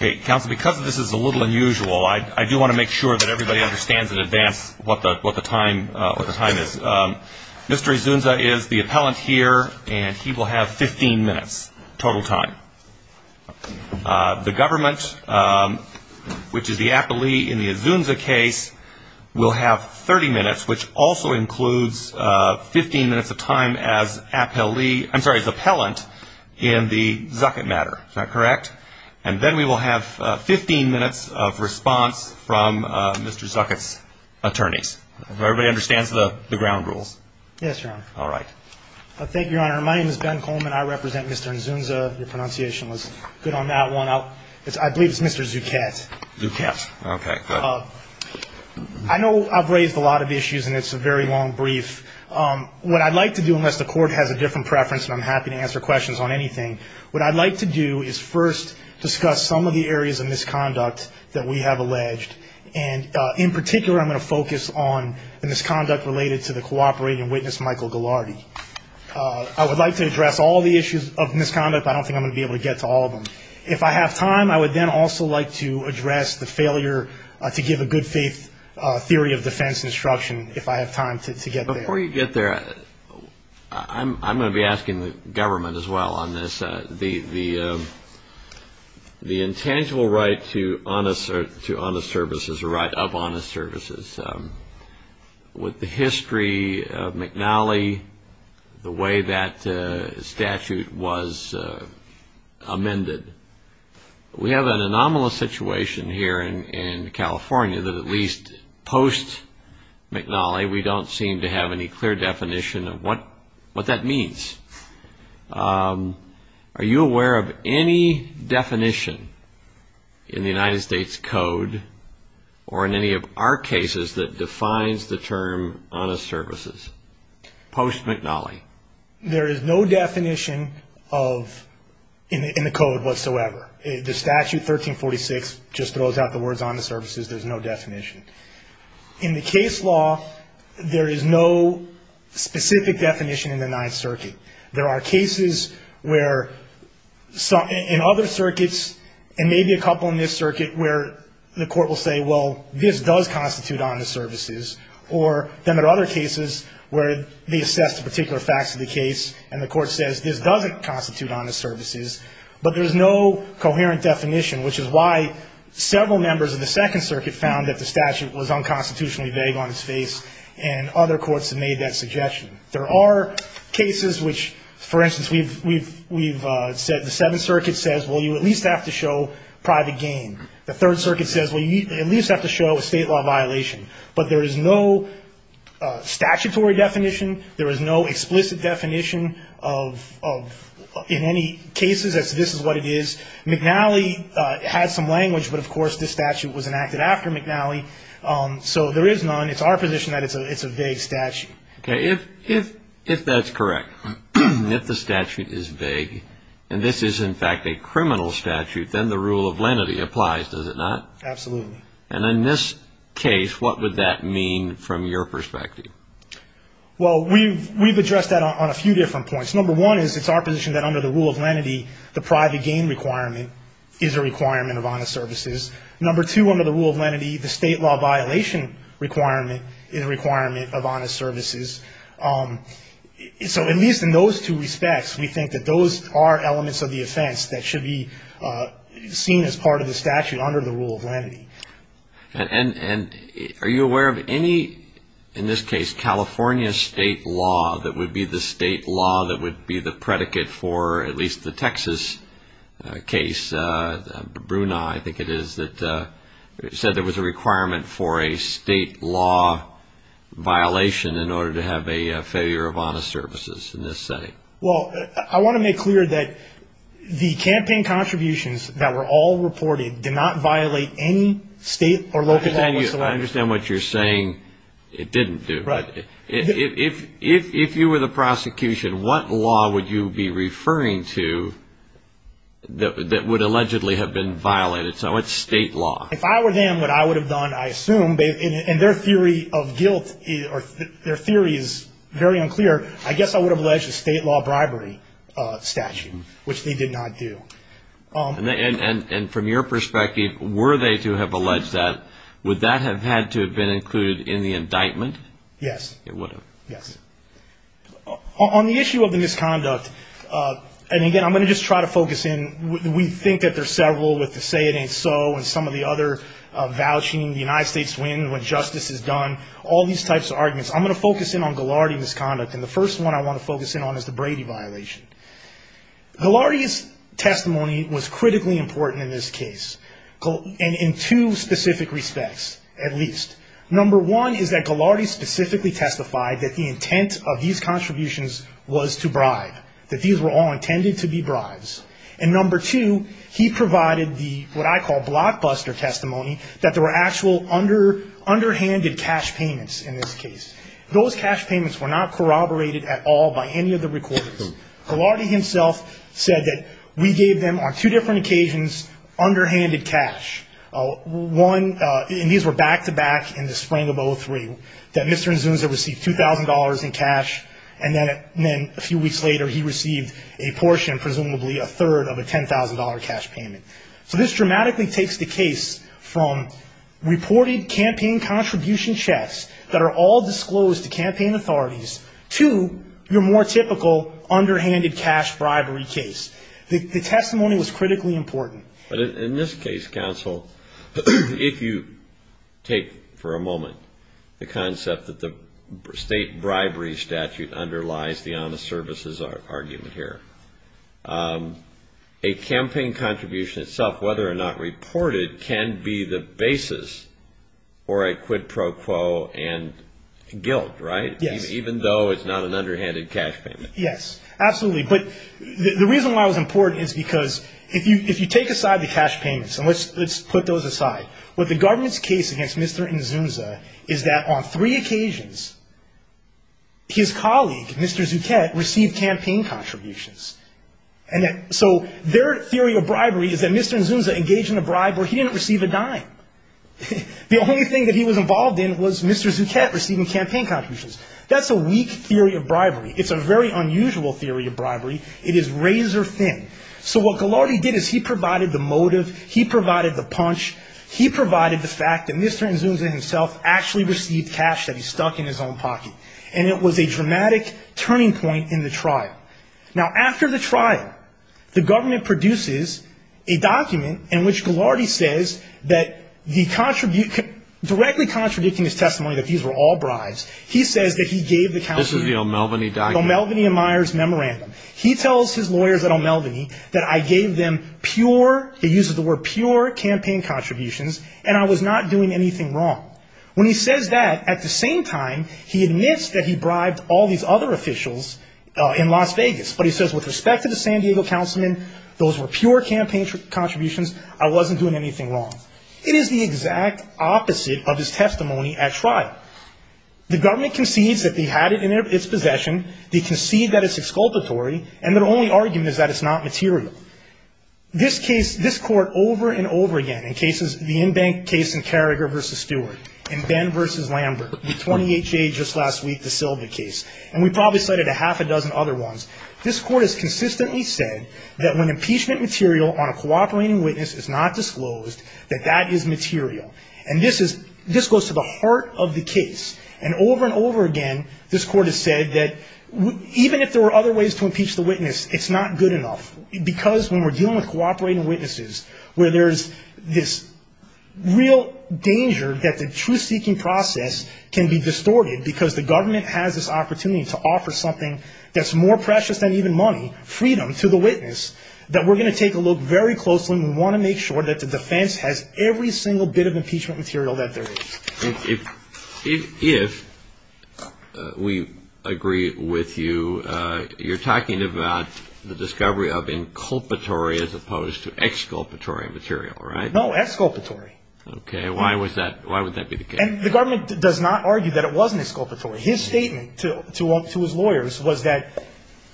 Because this is a little unusual, I do want to make sure that everybody understands in advance what the time is. Mr. Inzunza is the appellant here, and he will have 15 minutes total time. The government, which is the appellee in the Inzunza case, will have 30 minutes, which also includes 15 minutes of time as appellant in the Zuckett matter. Is that correct? And then we will have 15 minutes of response from Mr. Zuckett's attorney. Does everybody understand the ground rules? Yes, Your Honor. All right. Thank you, Your Honor. My name is Ben Coleman. I represent Mr. Inzunza. The pronunciation was good on that one. I believe it's Mr. Zuckett. Zuckett. Okay, good. I know I've raised a lot of issues, and it's a very long brief. What I'd like to do, unless the court has a different preference, and I'm happy to answer questions on anything, what I'd like to do is first discuss some of the areas of misconduct that we have alleged. And in particular, I'm going to focus on the misconduct related to the cooperating witness, Michael Ghilardi. I would like to address all the issues of misconduct, but I don't think I'm going to be able to get to all of them. If I have time, I would then also like to address the failure to give a good theory of defense instruction, if I have time to get there. Before you get there, I'm going to be asking the government as well on this. The intangible right to honest service is a right of honest service. With the history of McNally, the way that statute was amended. We have an anomalous situation here in California that at least post-McNally, we don't seem to have any clear definition of what that means. Are you aware of any definition in the United States Code or in any of our cases that defines the term honest services, post-McNally? There is no definition in the Code whatsoever. The statute 1346 just throws out the words honest services. There's no definition. In the case law, there is no specific definition in the Ninth Circuit. There are cases where in other circuits, and maybe a couple in this circuit, where the court will say, well, this does constitute honest services. Or there are other cases where they assess the particular facts of the case, and the court says, this doesn't constitute honest services. But there's no coherent definition, which is why several members of the Second Circuit found that the statute was unconstitutionally vague on its face, and other courts have made that suggestion. There are cases which, for instance, the Seventh Circuit says, well, you at least have to show private gain. The Third Circuit says, well, you at least have to show a state law violation. But there is no statutory definition. There is no explicit definition of in any cases that this is what it is. McNally has some language, but of course this statute was enacted after McNally. So there is none. It's our position that it's a vague statute. If that's correct, if the statute is vague, and this is in fact a criminal statute, then the rule of lenity applies, does it not? Absolutely. And in this case, what would that mean from your perspective? Well, we've addressed that on a few different points. Number one is, it's our position that under the rule of lenity, the private gain requirement is a requirement of honest services. Number two, under the rule of lenity, the state law violation requirement is a requirement of honest services. So at least in those two respects, we think that those are elements of the offense that should be seen as part of the statute under the rule of lenity. And are you aware of any, in this case, California state law that would be the state law that would be the predicate for at least the Texas case? And Brunei, I think it is, that said there was a requirement for a state law violation in order to have a failure of honest services in this setting. Well, I want to make clear that the campaign contributions that were all reported did not violate any state or local statute. I understand what you're saying it didn't do. If you were the prosecution, what law would you be referring to that would allegedly have been violated? So it's state law. If I were them, what I would have done, I assume, and their theory of guilt, their theory is very unclear, I guess I would have alleged a state law bribery statute, which they did not do. And from your perspective, were they to have alleged that, would that have had to have been included in the indictment? Yes. It would have. Yes. On the issue of the misconduct, and again, I'm going to just try to focus in, we think that there's several, like the Say It Ain't So and some of the other vouching, the United States winning when justice is done, all these types of arguments. I'm going to focus in on Ghilardi misconduct, and the first one I want to focus in on is the Brady violation. Ghilardi's testimony was critically important in this case, and in two specific respects, at least. Number one is that Ghilardi specifically testified that the intent of these contributions was to bribe, that these were all intended to be bribes. And number two, he provided the, what I call blockbuster testimony, that there were actual underhanded cash payments in this case. Those cash payments were not corroborated at all by any of the recorders. Ghilardi himself said that we gave them, on two different occasions, underhanded cash. One, and these were back-to-back in the spring of 2003, that Mr. Azusa received $2,000 in cash, and then a few weeks later he received a portion, presumably a third, of a $10,000 cash payment. So this dramatically takes the case from reported campaign contribution checks that are all disclosed to campaign authorities to your more typical underhanded cash bribery case. The testimony was critically important. In this case, counsel, if you take for a moment the concept that the state bribery statute underlies the honest services argument here, a campaign contribution itself, whether or not reported, can be the basis for a quid pro quo and guilt, right? Yes. Even though it's not an underhanded cash payment. Yes, absolutely. But the reason why it was important is because if you take aside the cash payments, and let's put those aside, what the government's case against Mr. Azusa is that on three occasions, his colleague, Mr. Zuchett, received campaign contributions. So their theory of bribery is that Mr. Azusa engaged in a bribe where he didn't receive a dime. The only thing that he was involved in was Mr. Zuchett receiving campaign contributions. That's a weak theory of bribery. It's a very unusual theory of bribery. It is razor thin. So what Ghilardi did is he provided the motive. He provided the punch. He provided the fact that Mr. Azusa himself actually received cash that he stuck in his own pocket. And it was a dramatic turning point in the trial. Now, after the trial, the government produces a document in which Ghilardi says that directly contributing his testimony that these were all bribes, he says that he gave the counsel. This is the O'Melveny document. O'Melveny and Myers memorandum. He tells his lawyers at O'Melveny that I gave them pure, he uses the word pure, campaign contributions and I was not doing anything wrong. When he says that, at the same time, he admits that he bribed all these other officials in Las Vegas. But he says with respect to the San Diego councilman, those were pure campaign contributions. I wasn't doing anything wrong. It is the exact opposite of his testimony at trial. The government concedes that they had it in its possession. They concede that it's exculpatory. And their only argument is that it's not material. This case, this court over and over again, in cases, the in-bank case in Carragher v. Stewart and Ben v. Lambert, the 28th case just last week, the Sylvia case. And we probably cited a half a dozen other ones. This court has consistently said that when impeachment material on a cooperating witness is not disclosed, that that is material. And this is, this goes to the heart of the case. And over and over again, this court has said that even if there were other ways to impeach the witness, it's not good enough. Because when we're dealing with cooperating witnesses, where there's this real danger that the truth-seeking process can be distorted because the government has this opportunity to offer something that's more precious than even money, freedom, to the witness, that we're going to take a look very closely and we want to make sure that the defense has every single bit of impeachment material that there is. If we agree with you, you're talking about the discovery of inculpatory as opposed to exculpatory material, right? No, exculpatory. Okay, why would that be the case? And the government does not argue that it wasn't exculpatory. His statement to his lawyers was that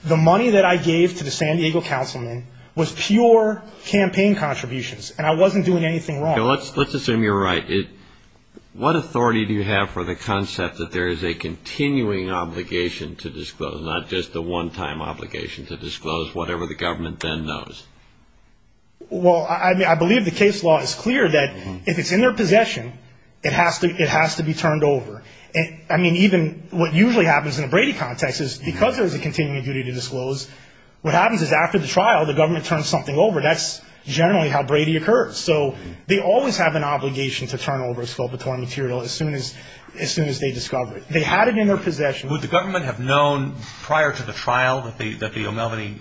the money that I gave to the San Diego councilman was pure campaign contributions. And I wasn't doing anything wrong. Let's assume you're right. What authority do you have for the concept that there is a continuing obligation to disclose, not just a one-time obligation to disclose whatever the government then knows? Well, I believe the case law is clear that if it's in their possession, it has to be turned over. I mean, even what usually happens in a Brady context is because there's a continuing duty to disclose, what happens is after the trial, the government turns something over. That's generally how Brady occurs. So they always have an obligation to turn over exculpatory material as soon as they discover it. They had it in their possession. Would the government have known prior to the trial that the O'Melveny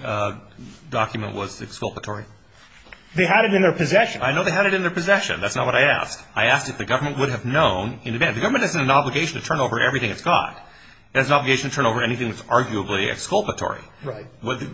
document was exculpatory? They had it in their possession. I know they had it in their possession. That's not what I asked. I asked if the government would have known in advance. The government doesn't have an obligation to turn over everything it's got. It has an obligation to turn over anything that's arguably exculpatory. Right.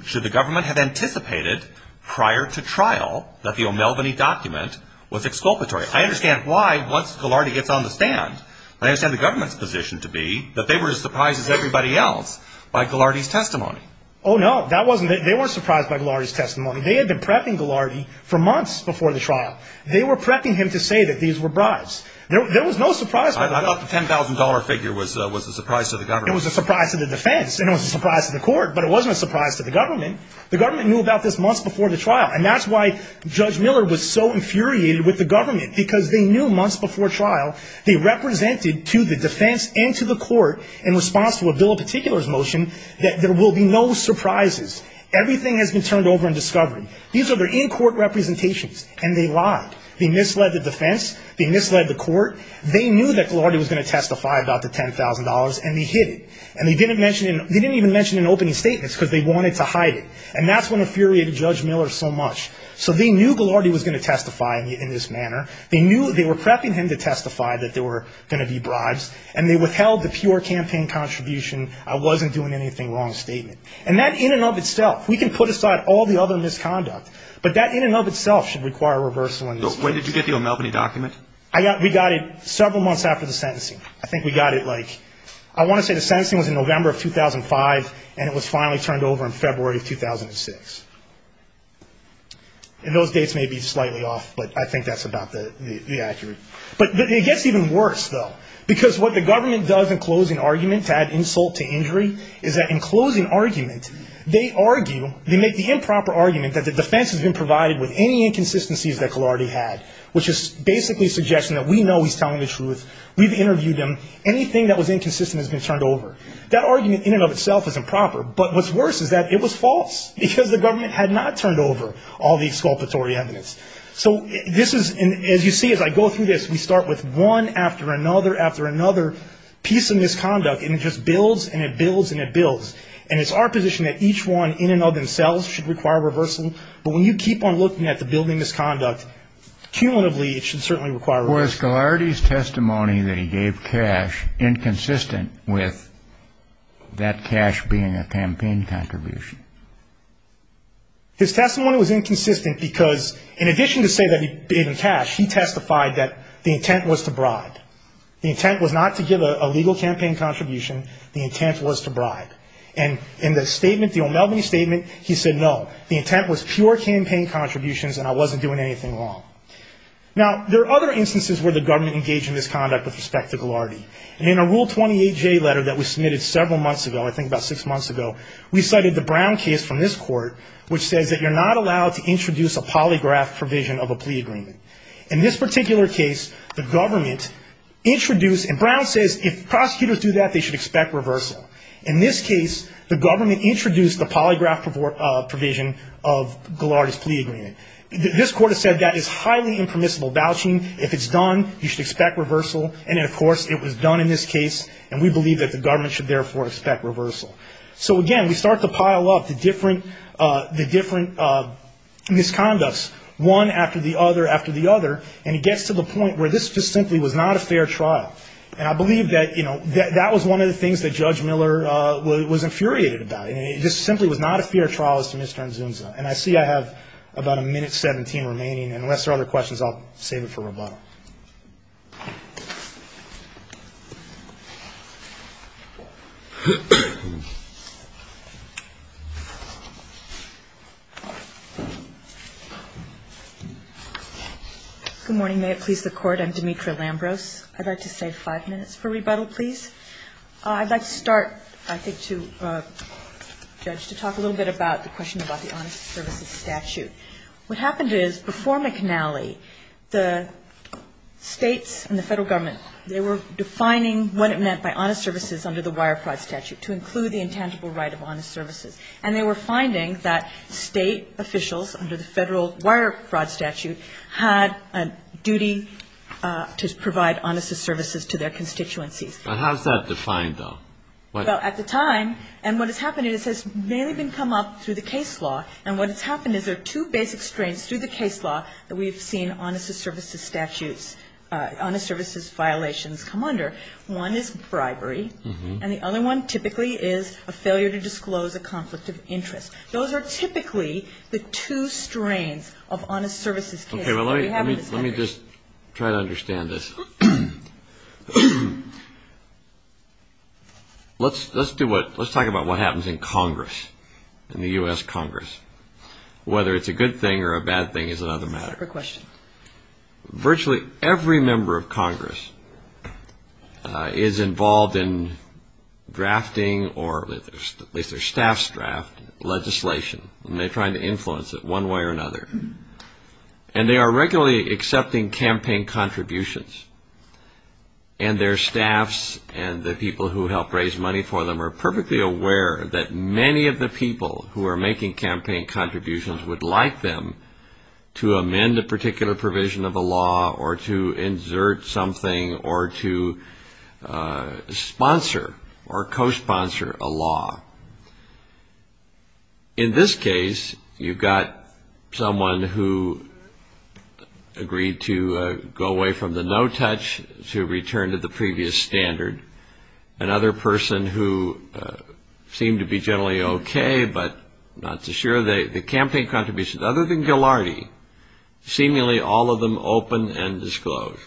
Should the government have anticipated prior to trial that the O'Melveny document was exculpatory? I understand why once Gillardy gets on the stand, I understand the government's position to be that they were as surprised as everybody else by Gillardy's testimony. Oh, no. They weren't surprised by Gillardy's testimony. They had been prepping Gillardy for months before the trial. They were prepping him to say that these were bribes. There was no surprise to the government. I thought the $10,000 figure was a surprise to the government. It was a surprise to the defense. It was a surprise to the court, but it wasn't a surprise to the government. The government knew about this months before the trial, and that's why Judge Miller was so infuriated with the government, because they knew months before trial they represented to the defense and to the court in response to a bill of particulars motion that there will be no surprises. Everything has been turned over and discovered. These are their in-court representations, and they lied. They misled the defense. They misled the court. They knew that Gillardy was going to testify about the $10,000, and they hid it. They didn't even mention it in opening statements because they wanted to hide it, and that's when it infuriated Judge Miller so much. So they knew Gillardy was going to testify in this manner. They knew they were prepping him to testify that there were going to be bribes, and they withheld the pure campaign contribution, I wasn't doing anything wrong statement. And that in and of itself, we can put aside all the other misconduct, but that in and of itself should require a reversal. So where did you get the O'Melveny documents? We got it several months after the sentencing. I think we got it, like, I want to say the sentencing was in November of 2005, and it was finally turned over in February of 2006. And those dates may be slightly off, but I think that's about the accurate. But it gets even worse, though, because what the government does in closing arguments to add insult to injury is that in closing arguments, they argue, they make the improper argument that the defense has been provided with any inconsistencies that Gillardy had, which is basically suggesting that we know he's telling the truth, we've interviewed him, anything that was inconsistent has been turned over. That argument in and of itself is improper, but what's worse is that it was false, because the government had not turned over all the exculpatory evidence. So this is, as you see as I go through this, we start with one after another after another piece of misconduct, and it just builds and it builds and it builds. And it's our position that each one in and of themselves should require reversal, but when you keep on looking at the building misconduct, cumulatively it should certainly require reversal. Was Gillardy's testimony that he gave cash inconsistent with that cash being a campaign contribution? His testimony was inconsistent because in addition to saying that he gave him cash, he testified that the intent was to bribe. The intent was not to give a legal campaign contribution. The intent was to bribe. And in the statement, the O'Melveny statement, he said, no, the intent was pure campaign contributions and I wasn't doing anything wrong. Now, there are other instances where the government engaged in this conduct with respect to Gillardy. In a Rule 28J letter that was submitted several months ago, I think about six months ago, we cited the Brown case from this court, which says that you're not allowed to introduce a polygraph provision of a plea agreement. In this particular case, the government introduced, and Brown says if prosecutors do that, they should expect reversal. In this case, the government introduced the polygraph provision of Gillardy's plea agreement. This court has said that it's highly impermissible vouching. If it's done, you should expect reversal. And, of course, it was done in this case, and we believe that the government should therefore expect reversal. So, again, we start to pile up the different misconducts, one after the other after the other, and it gets to the point where this just simply was not a fair trial. And I believe that, you know, that was one of the things that Judge Miller was infuriated about. This simply was not a fair trial as to Ms. Franzunza. And I see I have about a minute-seventeen remaining, and unless there are other questions, I'll save it for rebuttal. Good morning. May it please the Court? I'm Demetra Lambros. I'd like to save five minutes for rebuttal, please. I'd like to start, I think, to talk a little bit about the question about the Honest Services Statute. What happened is, before McNally, the states and the federal government, they were defining what it meant by honest services under the Wire Fraud Statute to include the intangible right of honest services. And they were finding that state officials under the federal Wire Fraud Statute had a duty to provide honest services to their constituency. But how is that defined, though? Well, at the time, and what has happened is this may have come up through the case law, and what has happened is there are two basic strains through the case law that we've seen honest services statutes, honest services violations come under. One is bribery, and the other one typically is a failure to disclose a conflict of interest. Those are typically the two strains of honest services. Okay, well, let me just try to understand this. Let's talk about what happens in Congress, in the U.S. Congress. Whether it's a good thing or a bad thing is another matter. Virtually every member of Congress is involved in drafting or, if their staffs draft legislation, and they're trying to influence it one way or another. And they are regularly accepting campaign contributions. And their staffs and the people who help raise money for them are perfectly aware that many of the people who are making campaign contributions would like them to amend a particular provision of a law or to insert something or to sponsor or co-sponsor a law. In this case, you've got someone who agreed to go away from the no-touch to return to the previous standard. Another person who seemed to be generally okay but not so sure. The campaign contributions, other than Gilardi, seemingly all of them open and disclosed.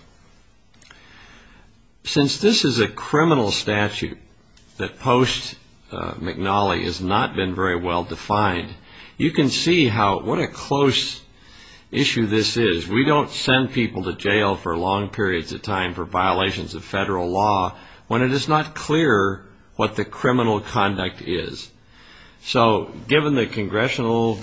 Since this is a criminal statute that post-McNally has not been very well defined, you can see what a close issue this is. We don't send people to jail for long periods of time for violations of federal law when it is not clear what the criminal conduct is. So, given the congressional,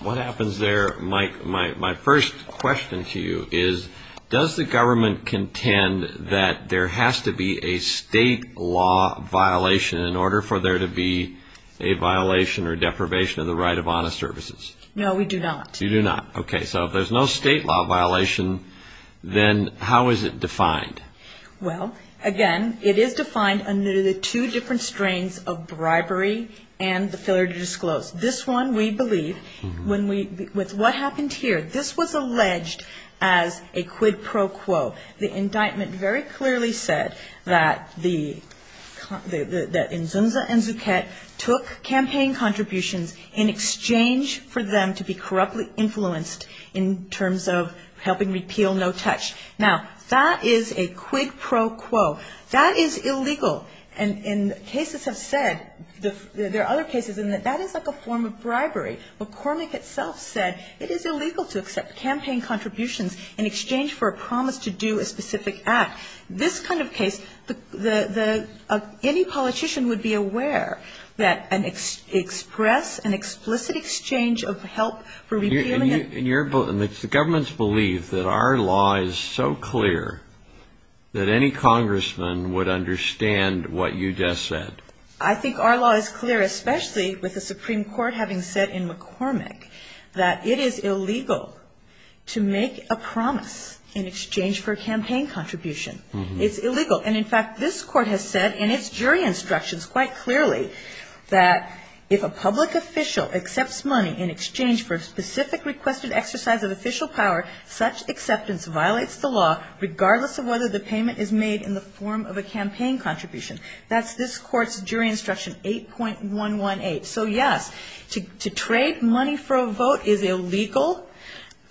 what happens there, my first question to you is, does the government contend that there has to be a state law violation in order for there to be a violation or deprivation of the right of honest services? No, we do not. You do not. Okay. So, if there's no state law violation, then how is it defined? Well, again, it is defined under the two different strains of bribery and the failure to disclose. This one, we believe, when we, with what happened here, this was alleged as a quid pro quo. The indictment very clearly said that the, that Enzoza and Zucchett took campaign contributions in exchange for them to be correctly influenced in terms of helping repeal no-touch. Now, that is a quid pro quo. That is illegal. And cases have said, there are other cases in that that is like a form of bribery. But Cormac itself said it is illegal to accept campaign contributions in exchange for a promise to do a specific act. This kind of case, any politician would be aware that an express, an explicit exchange of help for receiving it. The government's belief that our law is so clear that any congressman would understand what you just said. I think our law is clear, especially with the Supreme Court having said in McCormick that it is illegal to make a promise in exchange for a campaign contribution. It's illegal. And, in fact, this court has said in its jury instructions quite clearly that if a public official accepts money in exchange for a specific requested exercise of official power, such acceptance violates the law regardless of whether the payment is made in the form of a campaign contribution. That's this court's jury instruction 8.118. So, yes, to trade money for a vote is illegal.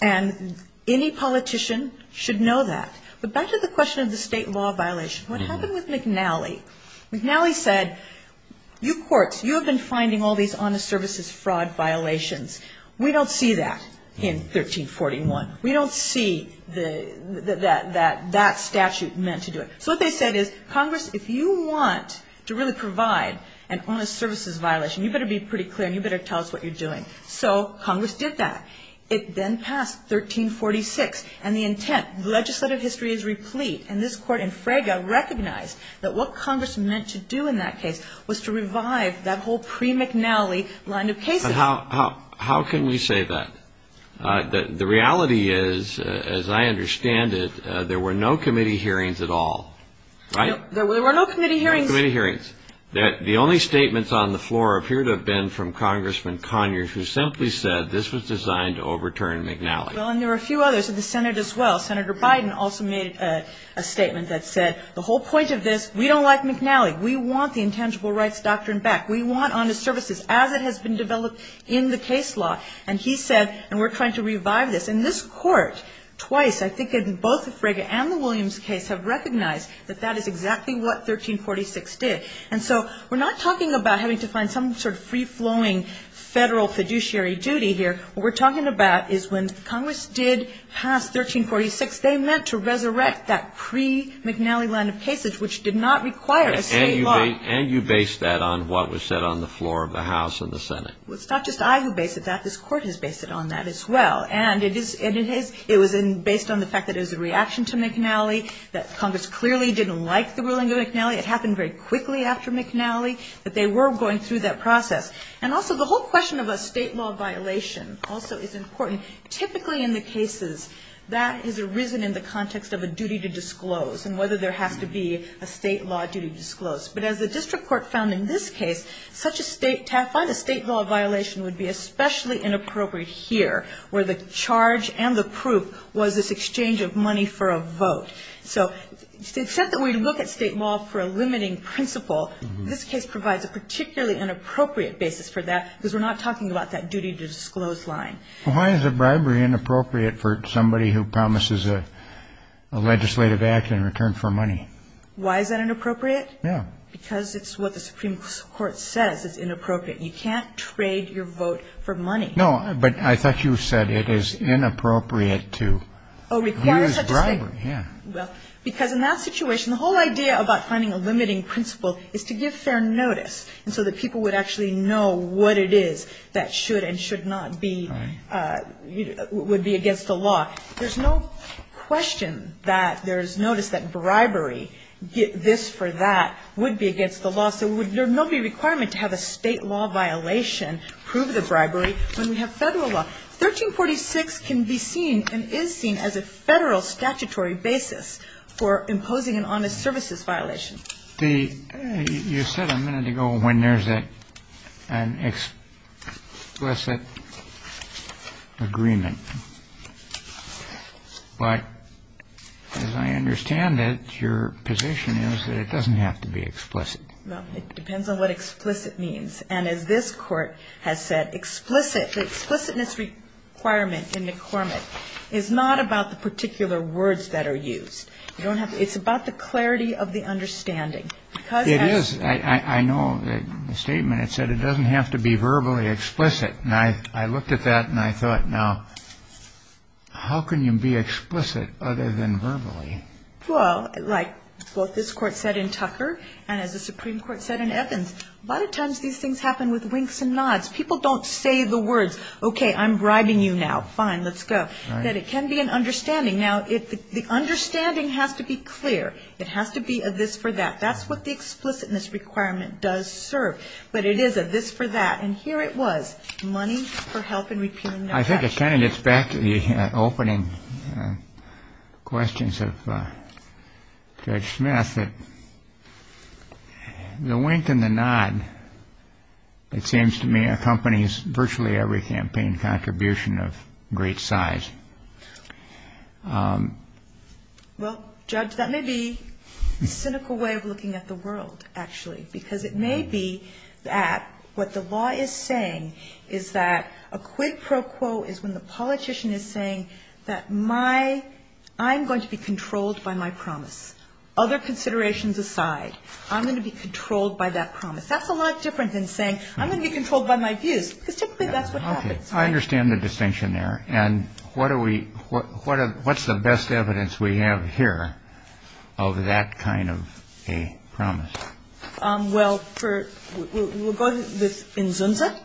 And any politician should know that. But back to the question of the state law violation. What's happened with McNally? McNally said, you courts, you have been finding all these honest services fraud violations. We don't see that in 1341. We don't see that that statute meant to do it. So, what they said is, Congress, if you want to really provide an honest services violation, you better be pretty clear and you better tell us what you're doing. So, Congress did that. It then passed 1346, and the intent of legislative history is replete. And this court in Fraga recognized that what Congress meant to do in that case was to revive that whole pre-McNally line of cases. How can we say that? The reality is, as I understand it, there were no committee hearings at all, right? There were no committee hearings. There were no committee hearings. The only statements on the floor appear to have been from Congressman Conyers, who simply said this was designed to overturn McNally. Well, and there were a few others in the Senate as well. Senator Biden also made a statement that said, the whole point of this, we don't like McNally. We want the intangible rights doctrine back. We want honest services as it has been developed in the case law. And he said, and we're trying to revive this. And this court, twice, I think in both the Fraga and the Williams case, have recognized that that is exactly what 1346 did. And so, we're not talking about having to find some sort of free-flowing federal fiduciary duty here. What we're talking about is when Congress did pass 1346, they meant to resurrect that pre-McNally line of cases, which did not require a state law. And you based that on what was said on the floor of the House and the Senate. Well, it's not just I who based it. This court has based it on that as well. And it was based on the fact that it was a reaction to McNally, that Congress clearly didn't like the ruling of McNally. It happened very quickly after McNally. But they were going through that process. And also, the whole question of a state law violation also is important. Typically, in the cases, that has arisen in the context of a duty to disclose and whether there has to be a state law duty disclosed. But as the district court found in this case, such a state law violation would be especially inappropriate here, where the charge and the proof was this exchange of money for a vote. So it's said that we look at state law for a limiting principle. This case provides a particularly inappropriate basis for that because we're not talking about that duty to disclose line. Why is a bribery inappropriate for somebody who promises a legislative act in return for money? Why is that inappropriate? Yeah. Because it's what the Supreme Court says is inappropriate. You can't trade your vote for money. No, but I thought you said it is inappropriate to use bribery. Well, because in that situation, the whole idea about finding a limiting principle is to give fair notice so that people would actually know what it is that should and should not be against the law. There's no question that there's notice that bribery, this for that, would be against the law. So there would not be a requirement to have a state law violation prove the bribery when we have federal law. 1346 can be seen and is seen as a federal statutory basis for imposing an honest services violation. You said a minute ago when there's an explicit agreement. But as I understand it, your position is that it doesn't have to be explicit. No, it depends on what explicit means. And as this court has said, explicit, the explicitness requirement in the formant is not about the particular words that are used. It's about the clarity of the understanding. It is. I know the statement, it said it doesn't have to be verbally explicit. And I looked at that and I thought, now, how can you be explicit other than verbally? Well, like both this court said in Tucker and as the Supreme Court said in Evans, a lot of times these things happen with winks and nods. People don't say the words, okay, I'm bribing you now. Fine, let's go. But it can be an understanding. Now, the understanding has to be clear. It has to be a this for that. That's what the explicitness requirement does serve. But it is a this for that. And here it was, money for help in repealing that. I think it kind of gets back to the opening questions of Judge Smith. The wink and the nod, it seems to me, accompanies virtually every campaign contribution of great size. Well, Judge, that may be a cynical way of looking at the world, actually. Because it may be that what the law is saying is that a quid pro quo is when the politician is saying that I'm going to be controlled by my promise. Other considerations aside, I'm going to be controlled by that promise. That's a lot different than saying I'm going to be controlled by my views. I understand the distinction there. And what's the best evidence we have here of that kind of a promise? Well, we'll go to Inzunza,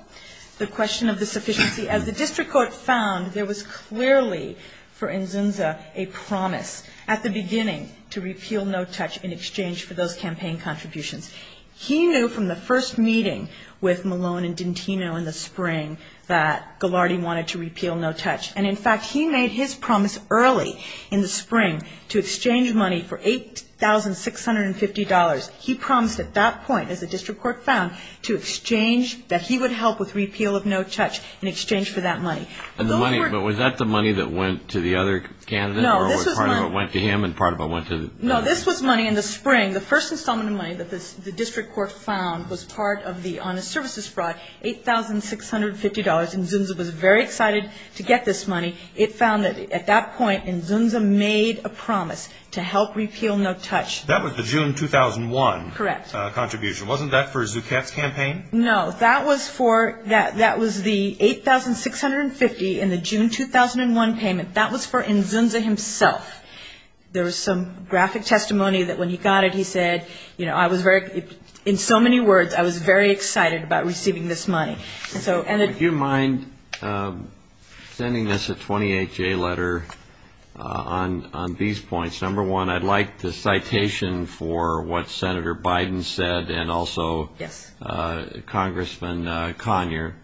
the question of the sufficiency. As the district court found, there was clearly for Inzunza a promise at the beginning to repeal No Touch in exchange for those campaign contributions. He knew from the first meeting with Malone and D'Antino in the spring that Ghilardi wanted to repeal No Touch. And, in fact, he made his promise early in the spring to exchange money for $8,650. He promised at that point, as the district court found, to exchange, that he would help with repeal of No Touch in exchange for that money. And the money, but was that the money that went to the other candidate or part of it went to him and part of it went to the candidate? No, this was money in the spring. The first installment of money that the district court found was part of the honest services fraud, $8,650. And Inzunza was very excited to get this money. It found that, at that point, Inzunza made a promise to help repeal No Touch. That was the June 2001 contribution. Wasn't that for Zucat's campaign? No, that was the $8,650 in the June 2001 payment. That was for Inzunza himself. There was some graphic testimony that, when he got it, he said, you know, I was very, in so many words, I was very excited about receiving this money. Do you mind sending us a 28-J letter on these points? Number one, I'd like the citation for what Senator Biden said and also Congressman Conyer.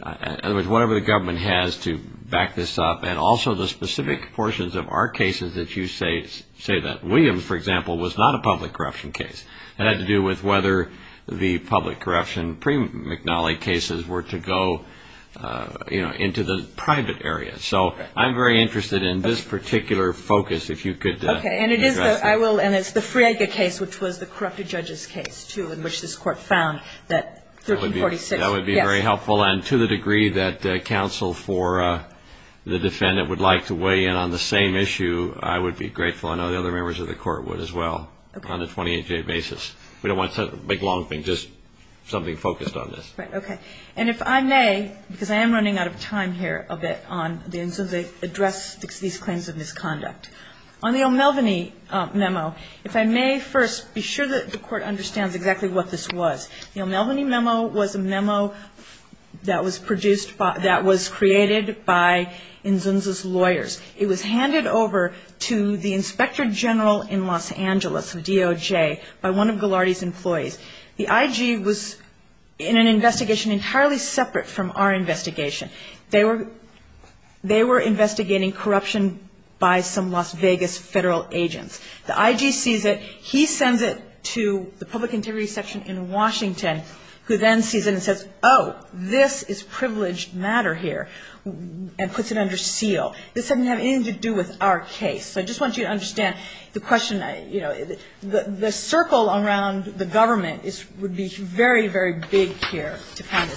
In other words, whatever the government has to back this up and also the specific portions of our cases that you say that. Williams, for example, was not a public corruption case. It had to do with whether the public corruption pre-McNally cases were to go, you know, into the private area. So I'm very interested in this particular focus, if you could address that. Okay, and it is, I will, and it's the Friega case, which was the corrupted judge's case, too, in which this court found that 1346. That would be very helpful. And to the degree that counsel for the defendant would like to weigh in on the same issue, I would be grateful, and I know the other members of the court would as well, on a 28-J basis. We don't want to make long things, just something focused on this. Right, okay. And if I may, because I am running out of time here a bit on the Inzunza address to these claims of misconduct. On the O'Melveny memo, if I may first be sure that the court understands exactly what this was. The O'Melveny memo was a memo that was produced by, that was created by Inzunza's lawyers. It was handed over to the Inspector General in Los Angeles, DOJ, by one of Ghilardi's employees. The IG was in an investigation entirely separate from our investigation. They were investigating corruption by some Las Vegas federal agents. The IG sees it. He sends it to the public integrity section in Washington, who then sees it and says, oh, this is privileged matter here, and puts it under seal. This doesn't have anything to do with our case. I just want you to understand the question, you know, the circle around the government would be very, very big here.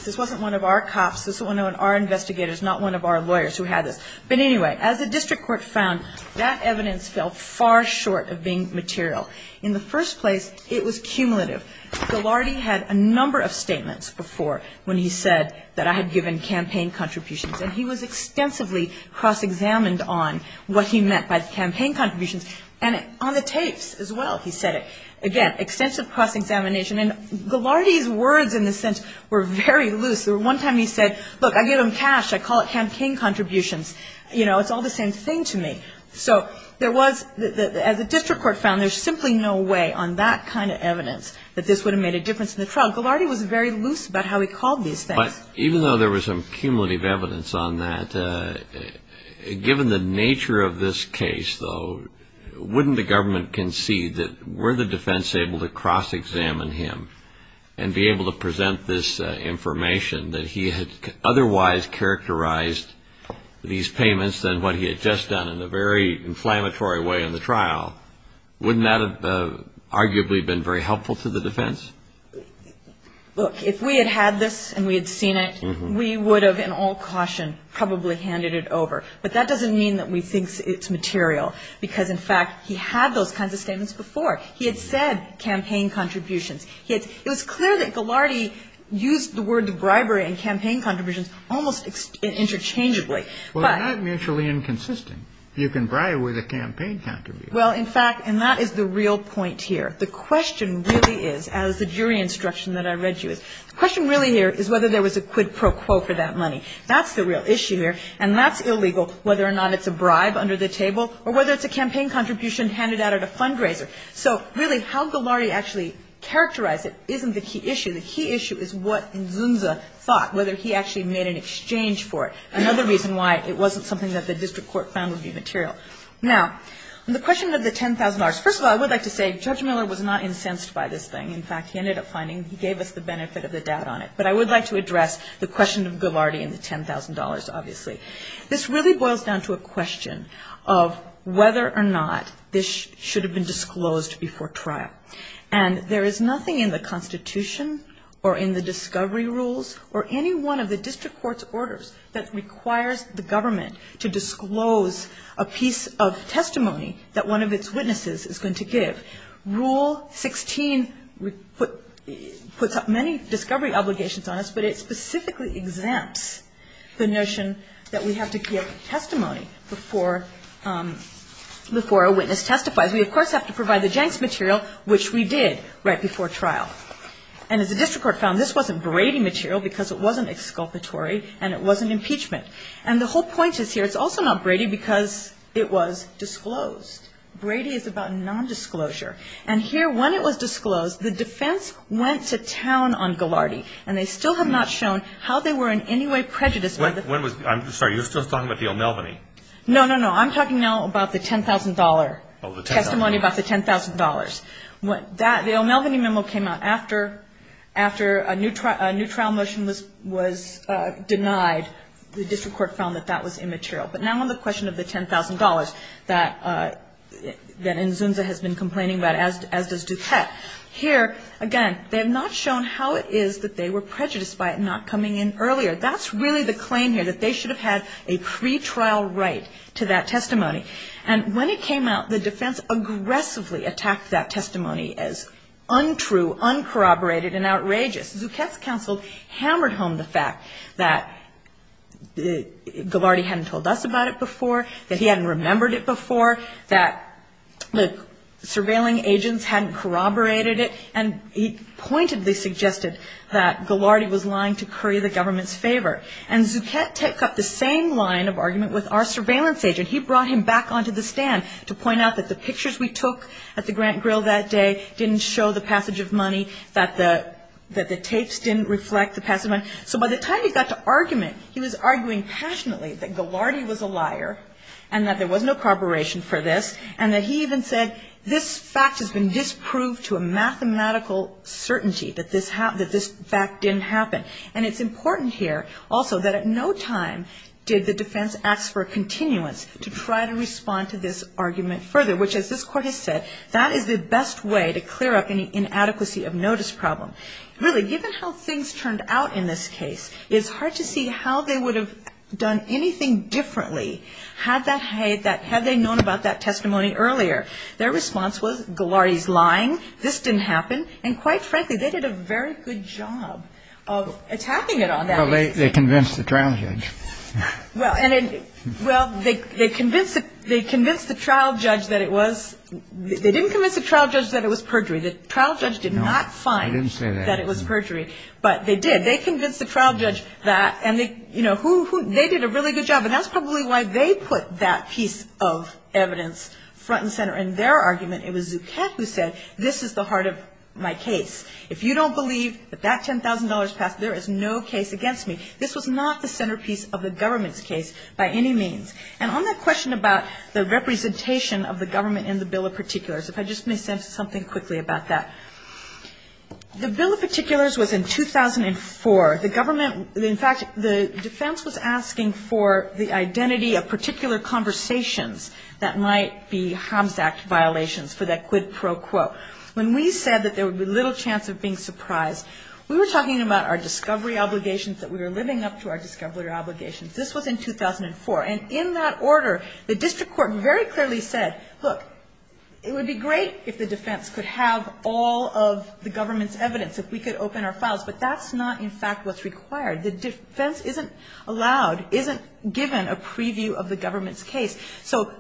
This wasn't one of our cops. This was one of our investigators, not one of our lawyers who had it. But anyway, as the district court found, that evidence fell far short of being material. In the first place, it was cumulative. Ghilardi had a number of statements before when he said that I had given campaign contributions, and he was extensively cross-examined on what he meant by campaign contributions, and on the tapes as well, he said it. Again, extensive cross-examination, and Ghilardi's words, in a sense, were very loose. There was one time he said, look, I gave him cash. I call it campaign contributions. You know, it's all the same thing to me. So there was, as the district court found, there's simply no way on that kind of evidence that this would have made a difference in the trial. Ghilardi was very loose about how he called these things. But even though there was some cumulative evidence on that, given the nature of this case, though, wouldn't the government concede that were the defense able to cross-examine him and be able to present this information that he had otherwise characterized these payments than what he had just done in a very inflammatory way in the trial, wouldn't that have arguably been very helpful to the defense? Look, if we had had this and we had seen it, we would have, in all caution, probably handed it over. But that doesn't mean that we think it's material because, in fact, he had those kinds of statements before. He had said campaign contributions. It was clear that Ghilardi used the word bribery and campaign contributions almost interchangeably. Well, they're not mutually inconsistent. You can bribe with a campaign contribution. Well, in fact, and that is the real point here. The question really is, as the jury instruction that I read you, the question really here is whether there was a quid pro quo for that money. That's the real issue here. And that's illegal whether or not it's a bribe under the table or whether it's a campaign contribution handed out at a fundraiser. So, really, how Ghilardi actually characterized it isn't the key issue. The key issue is what Guza thought, whether he actually made an exchange for it, another reason why it wasn't something that the district court found would be material. Now, the question of the $10,000. First of all, I would like to say Judge Miller was not incensed by this thing. In fact, he ended up finding he gave us the benefit of the doubt on it. But I would like to address the question of Ghilardi and the $10,000, obviously. This really boils down to a question of whether or not this should have been disclosed before trial. And there is nothing in the Constitution or in the discovery rules or any one of the district court's orders that requires the government to disclose a piece of testimony that one of its witnesses is going to give. Rule 16 puts up many discovery obligations on us, but it specifically exempts the notion that we have to give testimony before a witness testifies. We, of course, have to provide the gent material, which we did right before trial. And as the district court found, this wasn't Brady material because it wasn't exculpatory and it wasn't impeachment. And the whole point is here, it's also not Brady because it was disclosed. Brady is about nondisclosure. And here, when it was disclosed, the defense went to town on Ghilardi, and they still have not shown how they were in any way prejudiced. I'm sorry, you're still talking about the O'Melveny? No, no, no. I'm talking now about the $10,000. Oh, the $10,000. Testimony about the $10,000. The O'Melveny memo came out after a new trial motion was denied. The district court found that that was immaterial. But now on the question of the $10,000 that Nzunza has been complaining about, as does Duquette, here, again, they have not shown how it is that they were prejudiced by it not coming in earlier. That's really the claim here, that they should have had a pretrial right to that testimony. And when it came out, the defense aggressively attacked that testimony as untrue, uncorroborated, and outrageous. Duquette's counsel hammered home the fact that Ghilardi hadn't told us about it before, that he hadn't remembered it before, that the surveilling agents hadn't corroborated it, and he pointedly suggested that Ghilardi was lying to curry the government's favor. And Duquette took up the same line of argument with our surveillance agent. He brought him back onto the stand to point out that the pictures we took at the Grant Grill that day didn't show the passage of money, that the tapes didn't reflect the passage of money. So by the time he got to argument, he was arguing passionately that Ghilardi was a liar and that there was no corroboration for this, and that he even said, this fact has been disproved to a mathematical certainty that this fact didn't happen. And it's important here, also, that at no time did the defense ask for a continuance to try to respond to this argument further, which, as this court has said, that is the best way to clear up an inadequacy of notice problem. Really, given how things turned out in this case, it's hard to see how they would have done anything differently had they known about that testimony earlier. Their response was, Ghilardi's lying, this didn't happen, and quite frankly, they did a very good job of attacking it on that day. Well, they convinced the trial judge. Well, they convinced the trial judge that it was, they didn't convince the trial judge that it was perjury. The trial judge did not find that it was perjury, but they did. They convinced the trial judge that, and they, you know, they did a really good job, and that's probably why they put that piece of evidence front and center in their argument. It was Zutek who said, this is the heart of my case. If you don't believe that that $10,000 package, there is no case against me. This was not the centerpiece of the government's case by any means. And on that question about the representation of the government in the Bill of Particulars, if I just may say something quickly about that. The Bill of Particulars was in 2004. The government, in fact, the defense was asking for the identity of particular conversations that might be HOMS Act violations for that quid pro quo. When we said that there would be little chance of being surprised, we were talking about our discovery obligations, that we were living up to our discovery obligations. This was in 2004, and in that order, the district court very clearly said, look, it would be great if the defense could have all of the government's evidence, if we could open our files, but that's not, in fact, what's required. The defense isn't allowed, isn't given a preview of the government's case. So,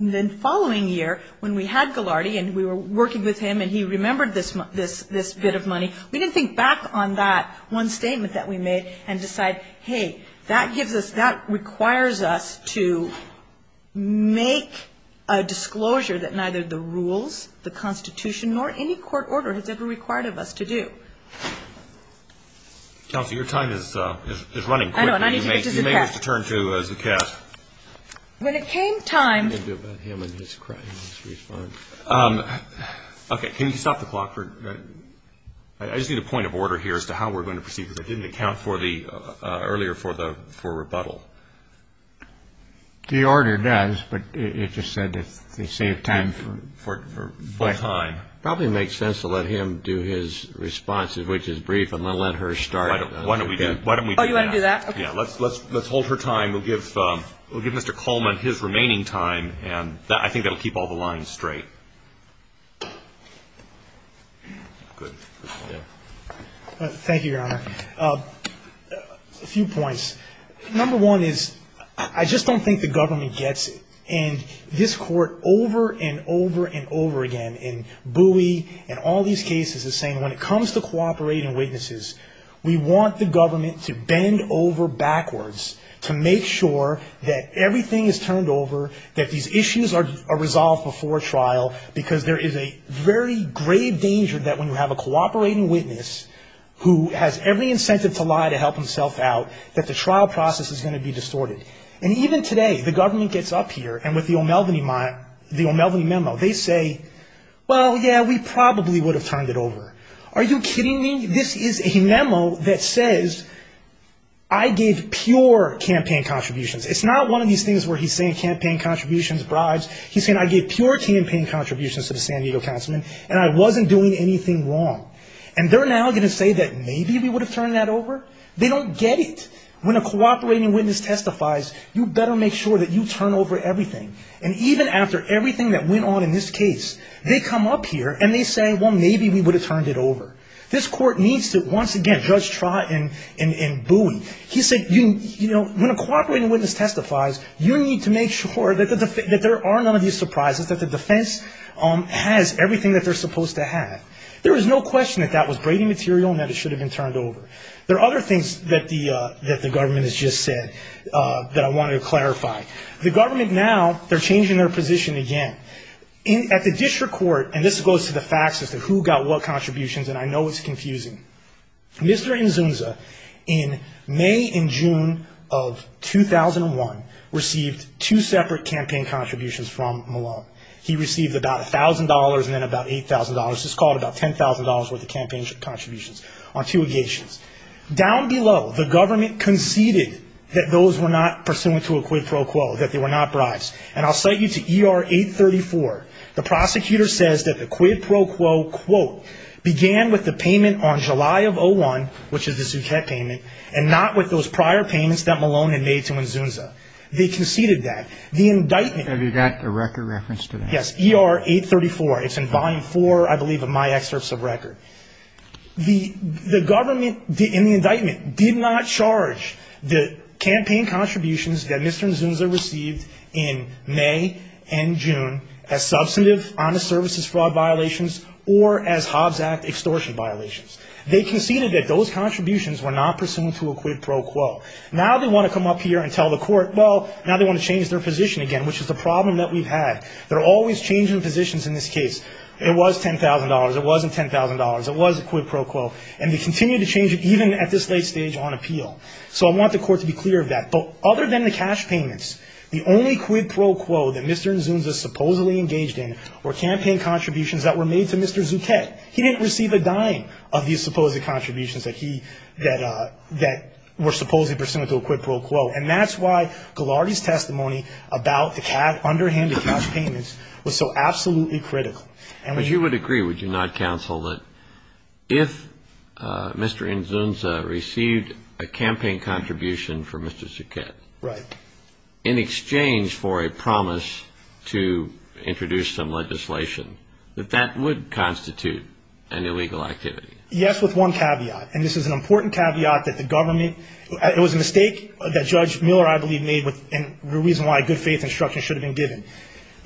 the following year, when we had Ghilardi, and we were working with him, and he remembered this bit of money, we didn't think back on that one statement that we made and decide, hey, that requires us to make a disclosure that neither the rules, the Constitution, nor any court order has ever required of us to do. Kelsey, your time is running. I know. I need to get to Zucast. You may have to turn to Zucast. When it came time. Okay. Can you stop the clock? I just need a point of order here as to how we're going to proceed, because I didn't account earlier for rebuttal. The order does, but it just said that they saved time. It probably makes sense to let him do his response, which is brief, and let her start. Why don't we do that? Oh, you want to do that? Yeah. Let's hold her time. We'll give Mr. Coleman his remaining time, and I think that will keep all the lines straight. Thank you, Your Honor. A few points. Number one is, I just don't think the government gets it, and this Court over and over and over again, in Bowie and all these cases, is saying when it comes to cooperating witnesses, we want the government to bend over backwards to make sure that everything is turned over, that these issues are resolved before trial, because there is a very grave danger that when you have a cooperating witness who has every incentive to lie to help himself out, that the trial process is going to be distorted. And even today, the government gets up here, and with the O'Melveny memo, they say, well, yeah, we probably would have turned it over. Are you kidding me? This is a memo that says, I gave pure campaign contributions. It's not one of these things where he's saying campaign contributions, bribes. He's saying, I gave pure campaign contributions to the San Diego Councilman, and I wasn't doing anything wrong. And they're now going to say that maybe we would have turned that over? They don't get it. When a cooperating witness testifies, you better make sure that you turn over everything. And even after everything that went on in this case, they come up here and they say, well, maybe we would have turned it over. This court needs to, once again, Judge Trott and Boone, he said, you know, when a cooperating witness testifies, you need to make sure that there are none of these surprises, that the defense has everything that they're supposed to have. There is no question that that was grating material and that it should have been turned over. There are other things that the government has just said that I wanted to clarify. The government now, they're changing their position again. At the district court, and this goes to the facts as to who got what contributions, and I know it's confusing. Mr. Nzumza, in May and June of 2001, received two separate campaign contributions from Malone. He received about $1,000 and then about $8,000. This is called about $10,000 worth of campaign contributions. Down below, the government conceded that those were not pursuant to a quid pro quo, that they were not bribes. And I'll cite you to ER 834. The prosecutor says that the quid pro quo, quote, began with the payment on July of 2001, which is the Zuchat payment, and not with those prior payments that Malone had made to Nzumza. They conceded that. Have you got the record reference to that? Yes, ER 834. It's in bind four, I believe, of my excerpts of record. The government, in the indictment, did not charge the campaign contributions that Mr. Nzumza received in May and June as substantive honest services fraud violations or as Hobbs Act extortion violations. They conceded that those contributions were not pursuant to a quid pro quo. Now they want to come up here and tell the court, well, now they want to change their position again, which is the problem that we've had. They're always changing positions in this case. It was $10,000. It wasn't $10,000. It was a quid pro quo. And they continue to change it, even at this late stage on appeal. So I want the court to be clear of that. But other than the cash payments, the only quid pro quo that Mr. Nzumza supposedly engaged in were campaign contributions that were made to Mr. Zuchat. He didn't receive a dime of these supposed contributions that he, that were supposedly pursuant to a quid pro quo. And that's why Ghilardi's testimony about the underhanded cash payments was so absolutely critical. But you would agree, would you not, counsel, that if Mr. Nzumza received a campaign contribution for Mr. Zuchat, in exchange for a promise to introduce some legislation, that that would constitute an illegal activity? Yes, with one caveat. And this is an important caveat that the government, it was a mistake that Judge Mueller, I believe, made and the reason why good faith instruction should have been given.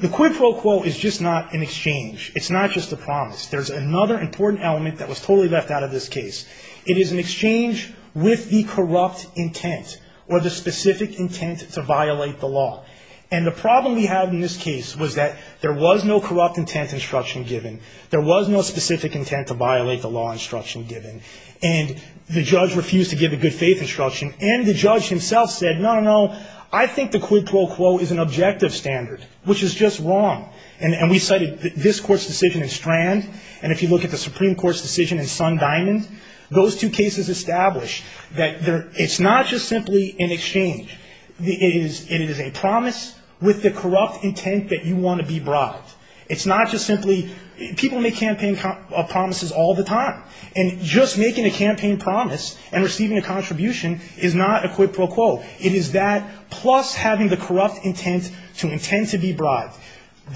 The quid pro quo is just not an exchange. It's not just a promise. There's another important element that was totally left out of this case. It is an exchange with the corrupt intent or the specific intent to violate the law. And the problem we have in this case was that there was no corrupt intent instruction given. There was no specific intent to violate the law instruction given. And the judge refused to give a good faith instruction. And the judge himself said, no, no, no, I think the quid pro quo is an objective standard, which is just wrong. And we cited this court's decision in Strand, and if you look at the Supreme Court's decision in Sundinan, those two cases established that it's not just simply an exchange. It is a promise with the corrupt intent that you want to be brought. It's not just simply people make campaign promises all the time. And just making a campaign promise and receiving a contribution is not a quid pro quo. It is that plus having the corrupt intent to intend to be bribed.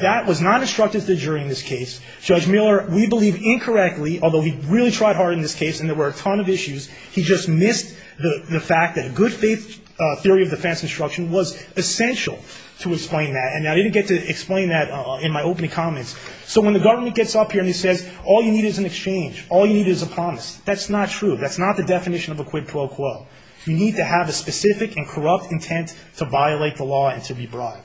That was not instructed to the jury in this case. Judge Mueller, we believe incorrectly, although we really tried hard in this case and there were a ton of issues, he just missed the fact that a good faith theory of defense instruction was essential to explain that. And I didn't get to explain that in my opening comments. So when the government gets up here and says all you need is an exchange, all you need is a promise, that's not true. That's not the definition of a quid pro quo. You need to have a specific and corrupt intent to violate the law and to be bribed.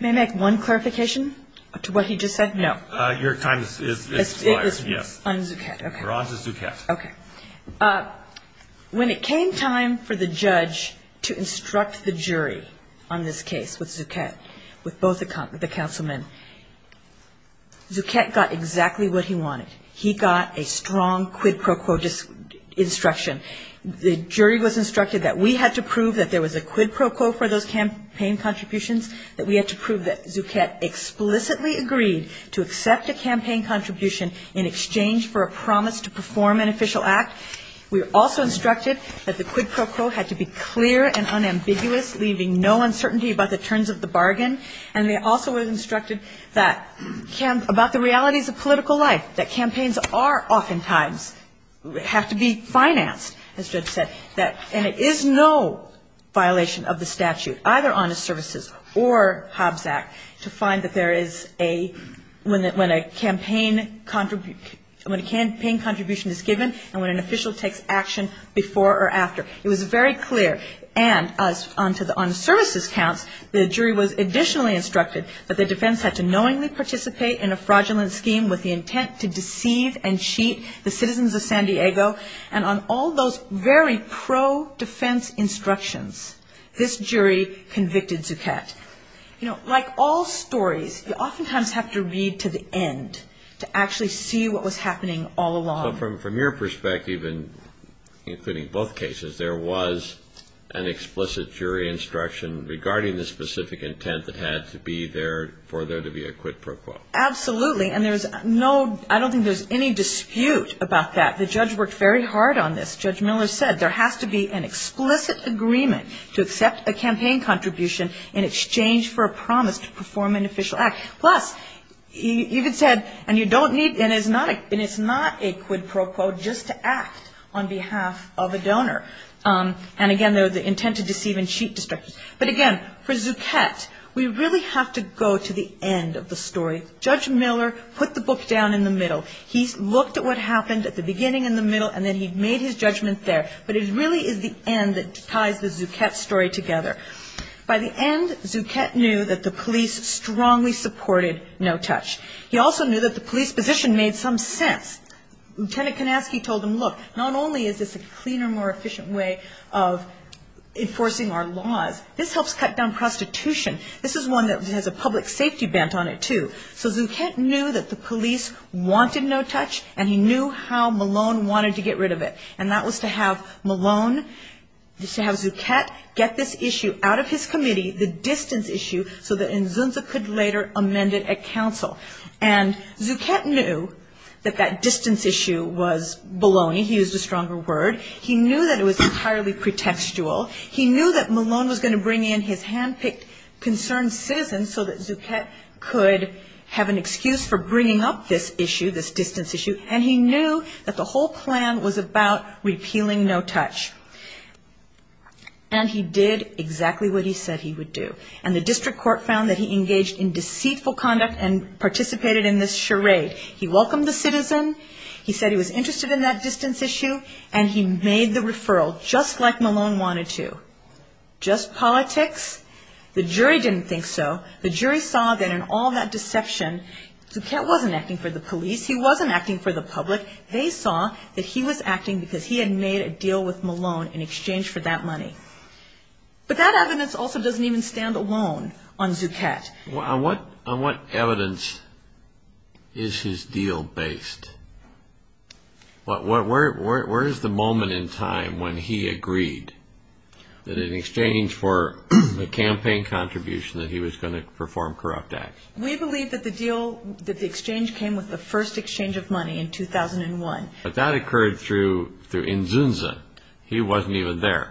May I make one clarification to what he just said? Your time has expired. We're on to Zucchett. When it came time for the judge to instruct the jury on this case with Zucchett, with both the councilmen, Zucchett got exactly what he wanted. He got a strong quid pro quo instruction. The jury was instructed that we had to prove that there was a quid pro quo for those campaign contributions, that we had to prove that Zucchett explicitly agreed to accept a campaign contribution in exchange for a promise to perform an official act. We were also instructed that the quid pro quo had to be clear and unambiguous, leaving no uncertainty about the terms of the bargain. And they also were instructed that, about the realities of political life, that campaigns are oftentimes, have to be financed. And it is no violation of the statute, either Honest Services or Hobbs Act, to find that there is a, when a campaign contribution is given and when an official takes action before or after. It was very clear. And on to the Honest Services count, the jury was additionally instructed that the defense had to knowingly participate in a fraudulent scheme with the intent to deceive and cheat the citizens of San Diego. And on all those very pro-defense instructions, this jury convicted Zucchett. You know, like all stories, you oftentimes have to read to the end to actually see what was happening all along. But from your perspective, and including both cases, there was an explicit jury instruction regarding the specific intent that had to be there for there to be a quid pro quo. Absolutely. And there's no, I don't think there's any dispute about that. The judge worked very hard on this. Judge Miller said there has to be an explicit agreement to accept a campaign contribution in exchange for a promise to perform an official act. Plus, he even said, and you don't need, and it's not a quid pro quo just to act on behalf of a donor. And again, there's the intent to deceive and cheat instructions. But again, for Zucchett, we really have to go to the end of the story. Judge Miller put the book down in the middle. He looked at what happened at the beginning and the middle, and then he made his judgment there. But it really is the end that ties the Zucchett story together. By the end, Zucchett knew that the police strongly supported no touch. He also knew that the police position made some sense. Lieutenant Konofsky told him, look, not only is this a cleaner, more efficient way of enforcing our laws, this helps cut down prostitution. This is one that has a public safety bent on it, too. So, Zucchett knew that the police wanted no touch, and he knew how Malone wanted to get rid of it. And that was to have Malone, to have Zucchett get this issue out of his committee, the distance issue, so that Nzunda could later amend it at counsel. And Zucchett knew that that distance issue was baloney. He used a stronger word. He knew that it was entirely pretextual. He knew that Malone was going to bring in his hand-picked concerned citizens so that Zucchett could have an excuse for bringing up this issue, this distance issue. And he knew that the whole plan was about repealing no touch. And he did exactly what he said he would do. And the district court found that he engaged in deceitful conduct and participated in this charade. He welcomed the citizens. He said he was interested in that distance issue. And he made the referral, just like Malone wanted to. Just politics? The jury didn't think so. The jury saw that in all that deception, Zucchett wasn't acting for the police. He wasn't acting for the public. They saw that he was acting because he had made a deal with Malone in exchange for that money. But that evidence also doesn't even stand alone on Zucchett. On what evidence is his deal based? Where is the moment in time when he agreed that in exchange for the campaign contribution that he was going to perform corrupt acts? We believe that the deal, that the exchange came with the first exchange of money in 2001. But that occurred through Inzunza. He wasn't even there.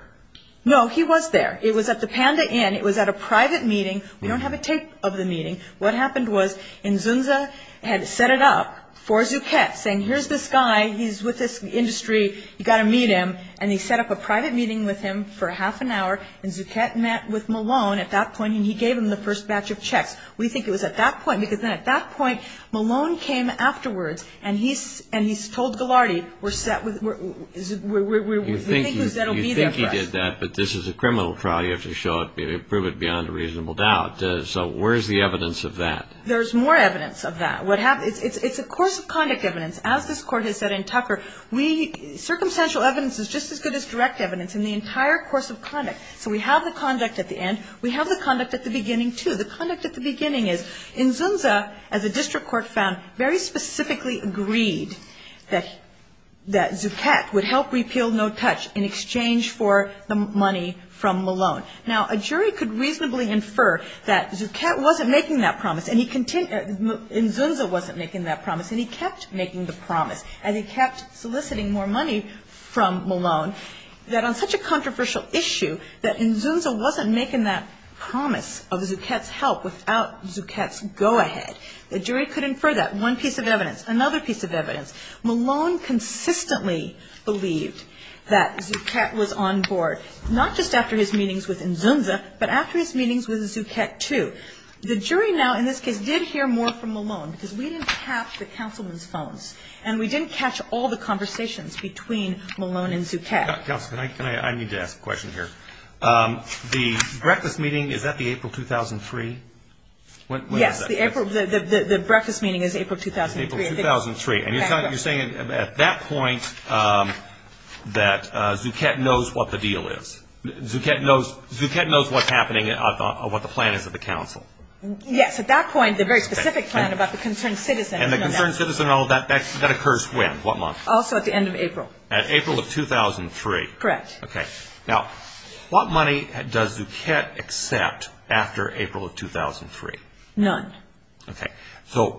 No, he was there. It was at the Panda Inn. It was at a private meeting. We don't have a tape of the meeting. What happened was Inzunza had set it up for Zucchett, saying, here's this guy. He's with this industry. You've got to meet him. And he set up a private meeting with him for half an hour, and Zucchett met with Malone at that point, and he gave him the first batch of checks. We think it was at that point, because then at that point, Malone came afterwards, and he told Gilardi, we think that'll be the effect. You think he did that, but this is a criminal trial. You have to show it, prove it beyond reasonable doubt. So where's the evidence of that? There's more evidence of that. It's a course of conduct evidence. As this Court has said in Tucker, circumstantial evidence is just as good as direct evidence in the entire course of conduct. So we have the conduct at the end. We have the conduct at the beginning, too. The conduct at the beginning is Inzunza, as a district court found, very specifically agreed that Zucchett would help repeal No Touch in exchange for the money from Malone. Now, a jury could reasonably infer that Zucchett wasn't making that promise, and Inzunza wasn't making that promise, and he kept making the promise, and he kept soliciting more money from Malone, that on such a controversial issue, that Inzunza wasn't making that promise of Zucchett's help without Zucchett's go-ahead. A jury could infer that. One piece of evidence. Another piece of evidence. Malone consistently believed that Zucchett was on board, not just after his meetings with Inzunza, but after his meetings with Zucchett, too. The jury now, in this case, did hear more from Malone, because we didn't catch the counselman's phone, and we didn't catch all the conversations between Malone and Zucchett. Counselor, I need to ask a question here. The breakfast meeting, is that the April 2003? Yes, the breakfast meeting was April 2003. April 2003. And you're saying at that point that Zucchett knows what the deal is? Zucchett knows what's happening, what the plan is with the counsel? Yes, at that point, the very specific plan about the concerned citizen. And the concerned citizen, that occurs when, what month? Also at the end of April. At April of 2003. Correct. Okay. Now, what money does Zucchett accept after April of 2003? None. Okay. And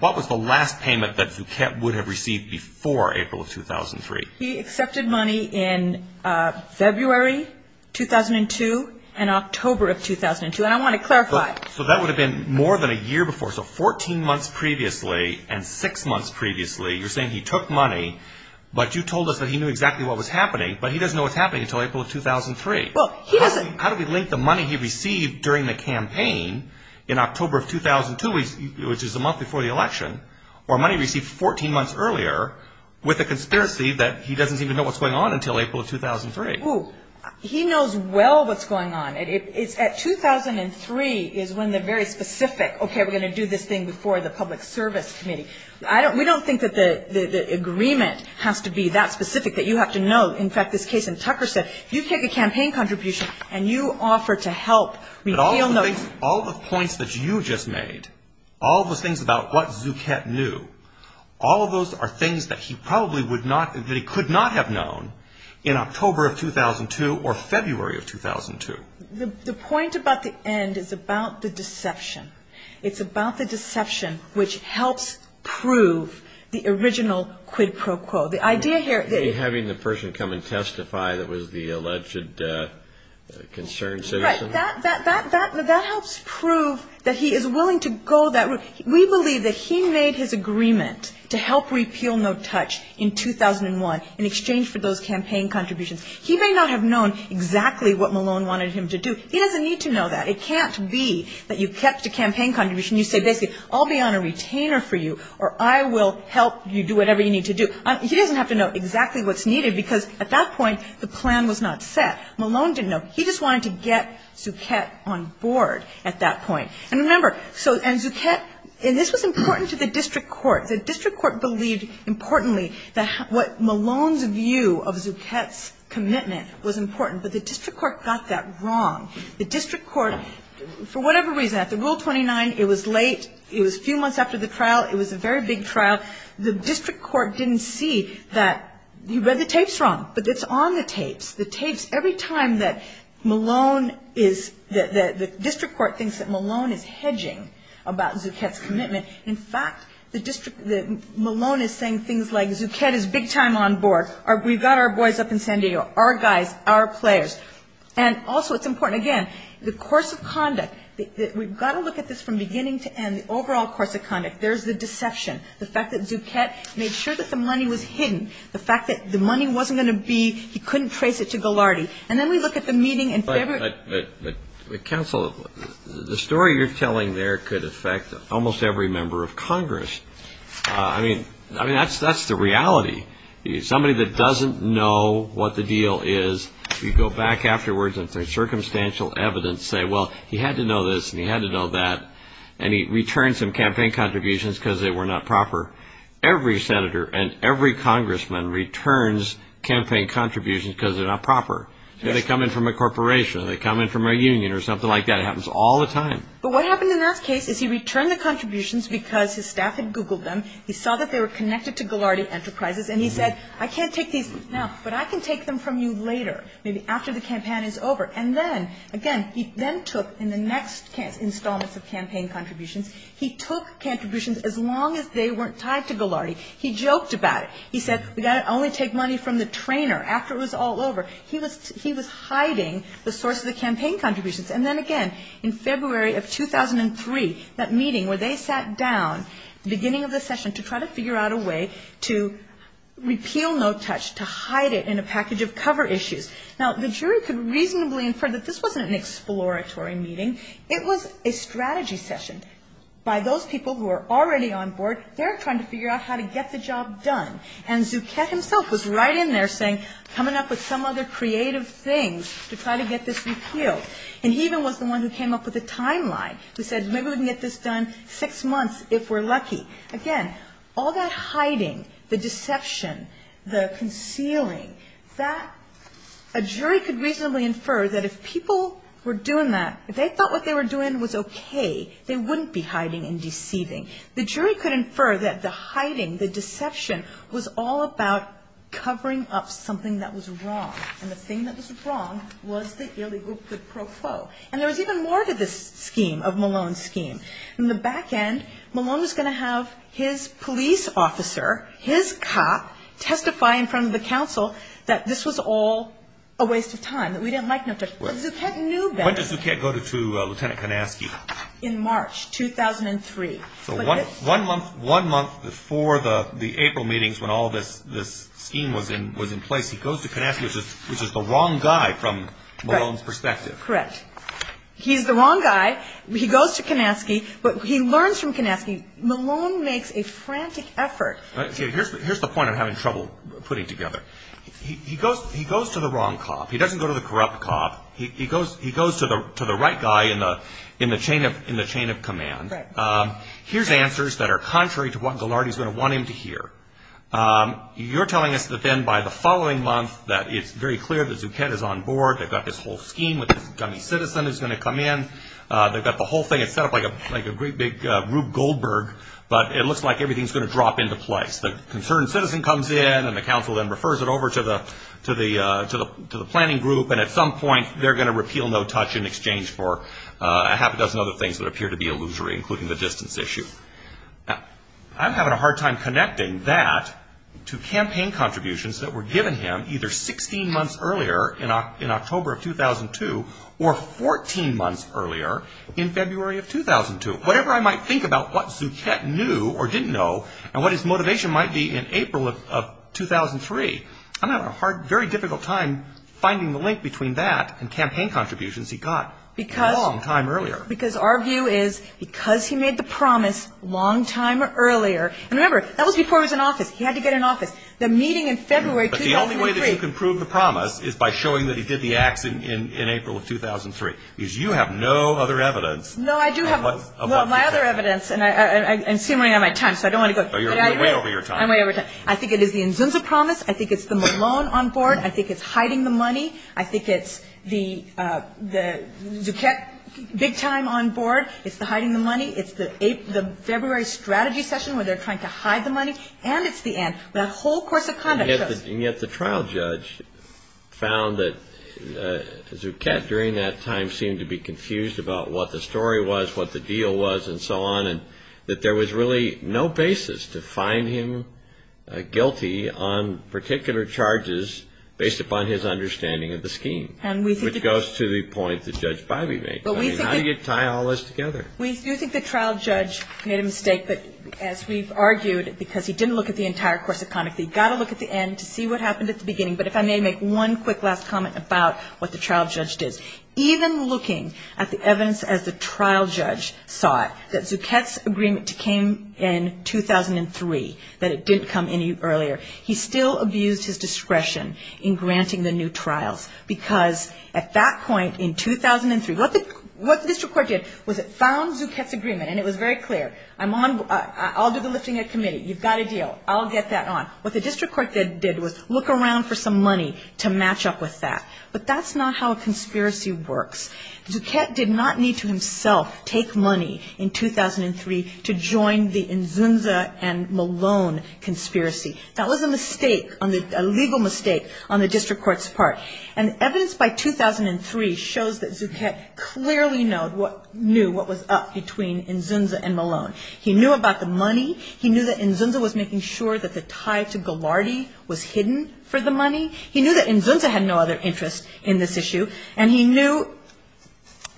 what was the last payment that Zucchett would have received before April of 2003? He accepted money in February 2002 and October of 2002, and I want to clarify. So that would have been more than a year before. So 14 months previously and six months previously, you're saying he took money, but you told us that he knew exactly what was happening, but he doesn't know what's happening until April of 2003. How do you link the money he received during the campaign in October of 2002, which is the month before the election, or money he received 14 months earlier, with the conspiracy that he doesn't even know what's going on until April of 2003? He knows well what's going on. At 2003 is when they're very specific. Okay, we're going to do this thing before the public service committee. We don't think that the agreement has to be that specific, that you have to know. In fact, this case in Tucker said, you take a campaign contribution and you offer to help. But all the things, all the points that you just made, all the things about what Zucchett knew, all of those are things that he probably would not, that he could not have known in October of 2002 or February of 2002. The point about the end is about the deception. It's about the deception which helps prove the original quid pro quo. Having the person come and testify that was the alleged concerned citizen? That helps prove that he is willing to go that route. We believe that he made his agreement to help repeal No Touch in 2001 in exchange for those campaign contributions. He may not have known exactly what Malone wanted him to do. He doesn't need to know that. It can't be that you catch the campaign contribution, you say, I'll be on a retainer for you or I will help you do whatever you need to do. He doesn't have to know exactly what's needed because at that point the plan was not set. Malone didn't know. He just wanted to get Zucchett on board at that point. And remember, and Zucchett, and this was important to the district court. The district court believed importantly that what Malone's view of Zucchett's commitment was important. But the district court got that wrong. The district court, for whatever reason, at the Rule 29 it was late. It was a few months after the trial. It was a very big trial. The district court didn't see that he read the tapes wrong. But it's on the tapes. The tapes, every time that Malone is, the district court thinks that Malone is hedging about Zucchett's commitment. In fact, Malone is saying things like, Zucchett is big time on board. We've got our boys up in San Diego, our guys, our players. And also it's important, again, the course of conduct. We've got to look at this from beginning to end, the overall course of conduct. There's the deception. The fact that Zucchett made sure that the money was hidden. The fact that the money wasn't going to be, he couldn't trace it to Ghilardi. And then we look at the meeting. Counsel, the story you're telling there could affect almost every member of Congress. I mean, that's the reality. Somebody that doesn't know what the deal is, you go back afterwards and there's circumstantial evidence saying, well, he had to know this and he had to know that. And he returned some campaign contributions because they were not proper. Every senator and every congressman returns campaign contributions because they're not proper. They come in from a corporation. They come in from a union or something like that. It happens all the time. But what happened in our case is he returned the contributions because his staff had Googled them. He saw that they were connected to Ghilardi Enterprises and he said, I can't take these now, but I can take them from you later, maybe after the campaign is over. And then, again, he then took, in the next installment of campaign contributions, he took contributions as long as they weren't tied to Ghilardi. He joked about it. He said, I'll only take money from the trainer after it was all over. He was hiding the source of the campaign contributions. And then, again, in February of 2003, that meeting where they sat down, the beginning of the session, to try to figure out a way to repeal No Touch, to hide it in a package of cover issues. Now, the jury could reasonably infer that this wasn't an exploratory meeting. It was a strategy session by those people who were already on board. They're trying to figure out how to get the job done. And Zucchett himself was right in there saying, coming up with some other creative thing to try to get this repealed. And he even was the one who came up with a timeline, who said, maybe we can get this done in six months if we're lucky. Again, all that hiding, the deception, the concealing, a jury could reasonably infer that if people were doing that, if they thought what they were doing was okay, they wouldn't be hiding and deceiving. The jury could infer that the hiding, the deception, was all about covering up something that was wrong. And the thing that was wrong was the illegal pro quo. And there was even more to this scheme, of Malone's scheme. In the back end, Malone was going to have his police officer, his cop, testify in front of the council that this was all a waste of time, that we didn't like No Touch. Zucchett knew that. When did Zucchett go to Lieutenant Kanasky? In March 2003. One month before the April meetings when all this scheme was in place, he goes to Kanasky, which is the wrong guy from Malone's perspective. Correct. He's the wrong guy. He goes to Kanasky, but he learns from Kanasky, Malone makes a frantic effort. Here's the point I'm having trouble putting together. He goes to the wrong cop. He doesn't go to the corrupt cop. He goes to the right guy in the chain of command. Here's answers that are contrary to what Gilardi is going to want him to hear. You're telling us that then by the following month that it's very clear that Zucchett is on board, they've got this whole scheme with this dummy citizen that's going to come in, they've got the whole thing set up like a great big Rube Goldberg, but it looks like everything is going to drop into place. The concerned citizen comes in and the council then refers it over to the planning group, and at some point they're going to repeal No Touch in exchange for a half a dozen other things that appear to be illusory, including the distance issue. I'm having a hard time connecting that to campaign contributions that were given him either 16 months earlier in October of 2002 or 14 months earlier in February of 2002. Whatever I might think about what Zucchett knew or didn't know and what his motivation might be in April of 2003, I'm having a very difficult time finding the link between that and campaign contributions he got a long time earlier. Because our view is because he made the promise a long time earlier, and remember LG4 is an office. He had to get an office. The meeting in February 2003. But the only way that you can prove the promise is by showing that he did the act in April of 2003. Because you have no other evidence. No, I do have my other evidence, and excuse me, I'm running out of time. So you're way over your time. I'm way over time. I think it is the INZUNZA promise. I think it's the Malone on board. I think it's hiding the money. I think it's the Zucchett big time on board. It's the hiding the money. It's the February strategy session where they're trying to hide the money. And it's the INZ, the whole course of conduct. And yet the trial judge found that Zucchett during that time seemed to be confused about what the story was, what the deal was, and so on, that there was really no basis to find him guilty on particular charges based upon his understanding of the scheme, which goes to the point that Judge Bivey made. How do you tie all this together? We do think the trial judge made a mistake, but as we've argued, because he didn't look at the entire course of conduct, we've got to look at the end to see what happened at the beginning. But if I may make one quick last comment about what the trial judge did. Even looking at the evidence as the trial judge saw it, that Zucchett's agreement came in 2003, that it didn't come any earlier, he still abused his discretion in granting the new trial. Because at that point in 2003, what the district court did was it found Zucchett's agreement, and it was very clear. I'll do the listing at committee. You've got a deal. I'll get that on. What the district court did was look around for some money to match up with that. But that's not how a conspiracy works. Zucchett did not need to himself take money in 2003 to join the Inzunza and Malone conspiracy. That was a mistake, a legal mistake on the district court's part. And evidence by 2003 shows that Zucchett clearly knew what was up between Inzunza and Malone. He knew about the money. He knew that Inzunza was making sure that the tie to Ghilardi was hidden for the money. He knew that Inzunza had no other interest in this issue, and he knew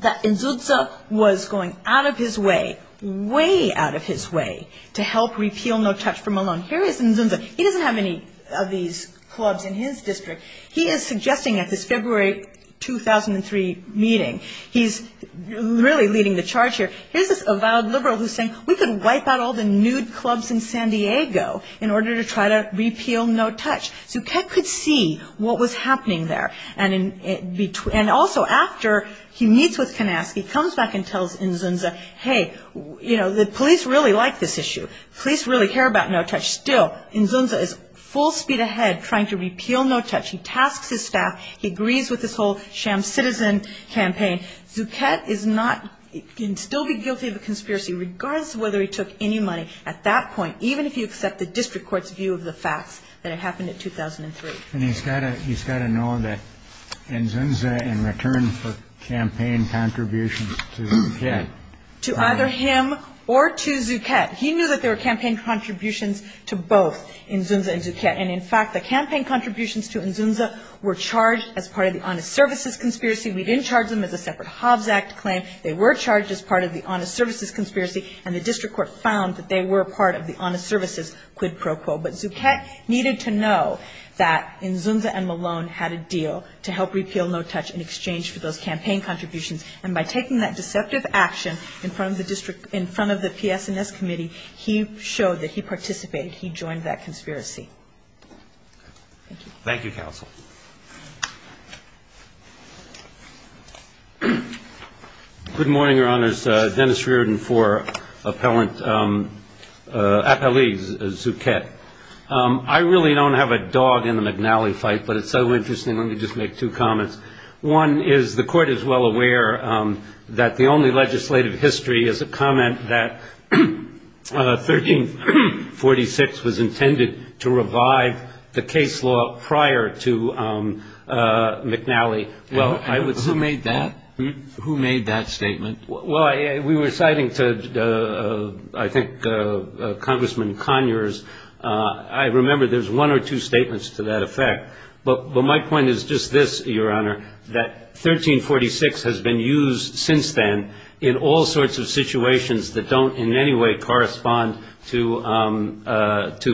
that Inzunza was going out of his way, way out of his way, to help repeal No Touch for Malone. Here is Inzunza. He doesn't have any of these clubs in his district. He is suggesting at this February 2003 meeting, he's really leading the charge here, here's this avowed liberal who's saying we can wipe out all the nude clubs in San Diego in order to try to repeal No Touch. Zucchett could see what was happening there. And also after he meets with Kanaski, comes back and tells Inzunza, hey, you know, the police really like this issue. The police really care about No Touch. Still, Inzunza is full speed ahead trying to repeal No Touch. He tasks his staff. He agrees with this whole sham citizen campaign. Zucchett is not, can still be guilty of the conspiracy, regardless of whether he took any money at that point, even if you accept the district court's view of the fact that it happened in 2003. And he's got to know that Inzunza in return for campaign contributions to Zucchett. To either him or to Zucchett. He knew that there were campaign contributions to both Inzunza and Zucchett. And, in fact, the campaign contributions to Inzunza were charged as part of the Honest Services Conspiracy. We didn't charge them as a separate Hobbs Act claim. They were charged as part of the Honest Services Conspiracy. And the district court found that they were part of the Honest Services quid pro quo. But Zucchett needed to know that Inzunza and Malone had a deal to help repeal No Touch in exchange for those campaign contributions. And by taking that deceptive action in front of the district, in front of the PS&S committee, he showed that he participated. Thank you, counsel. Good morning, Your Honors. Dennis Reardon for appellant at the league, Zucchett. I really don't have a dog in the McNally fight, but it's so interesting. Let me just make two comments. One is the court is well aware that the only legislative history is a comment that 1346 was intended to revive the case law prior to McNally. Who made that? Who made that statement? Well, we were citing, I think, Congressman Conyers. I remember there's one or two statements to that effect. But my point is just this, Your Honor, that 1346 has been used since then in all sorts of situations that don't in any way correspond to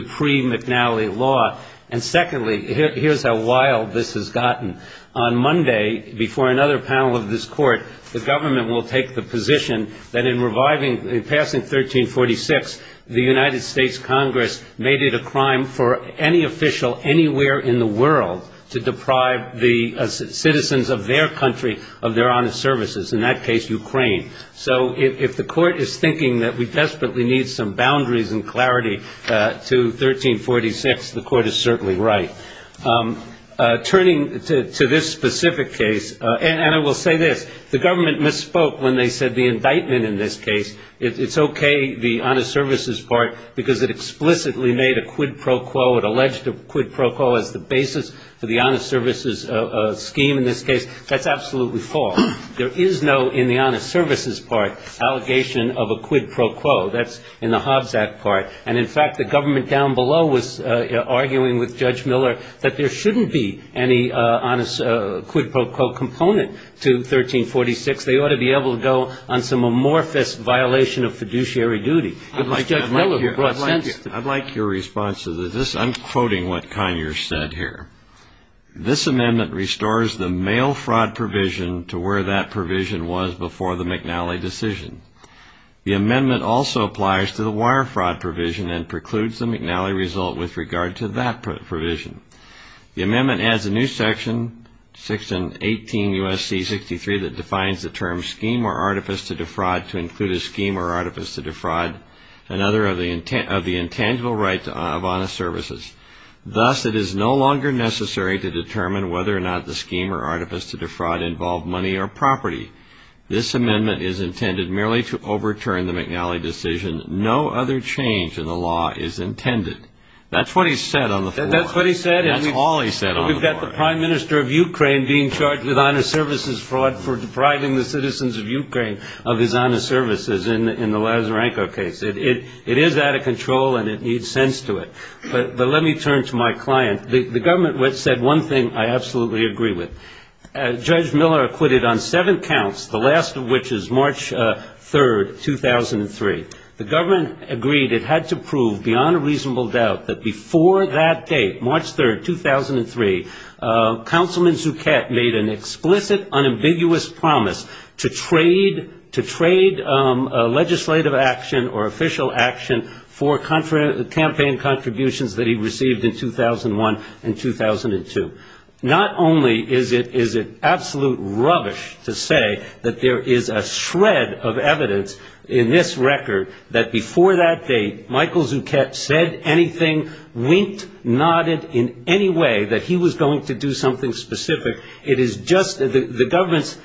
pre-McNally law. And secondly, here's how wild this has gotten. On Monday, before another panel of this court, the government will take the position that in reviving, in passing 1346, the United States Congress made it a crime for any official anywhere in the world to deprive the citizens of their country of their honest services, in that case, Ukraine. So if the court is thinking that we desperately need some boundaries and clarity to 1346, the court is certainly right. Turning to this specific case, and I will say this, the government misspoke when they said the indictment in this case, it's okay, the honest services part, because it explicitly made a quid pro quo. It alleged a quid pro quo as the basis for the honest services scheme in this case. That's absolutely false. There is no, in the honest services part, allegation of a quid pro quo. That's in the Hobbs Act part. And, in fact, the government down below was arguing with Judge Miller that there shouldn't be any honest quid pro quo component to 1346. They ought to be able to go on some amorphous violation of fiduciary duty. I'd like your response to this. I'm quoting what Conyers said here. This amendment restores the mail fraud provision to where that provision was before the McNally decision. The amendment also applies to the wire fraud provision and precludes the McNally result with regard to that provision. The amendment adds a new section, 618 U.S.C. 63, that defines the term scheme or artifice to defraud to include a scheme or artifice to defraud another of the intangible right of honest services. Thus, it is no longer necessary to determine whether or not the scheme or artifice to defraud involved money or property. This amendment is intended merely to overturn the McNally decision. No other change in the law is intended. That's what he said on the floor. Is that what he said? That's all he said on the floor. So we've got the Prime Minister of Ukraine being charged with honest services fraud for depriving the citizens of Ukraine of his honest services in the Lazarenko case. It is out of control, and it needs sense to it. But let me turn to my client. The government said one thing I absolutely agree with. Judge Miller acquitted on seven counts, the last of which is March 3, 2003. The government agreed it had to prove beyond a reasonable doubt that before that date, March 3, 2003, Councilman Zuchett made an explicit, unambiguous promise to trade legislative action or official action for campaign contributions that he received in 2001 and 2002. Not only is it absolute rubbish to say that there is a shred of evidence in this record that before that date, Michael Zuchett said anything, winked, nodded in any way that he was going to do something specific. It is just the government's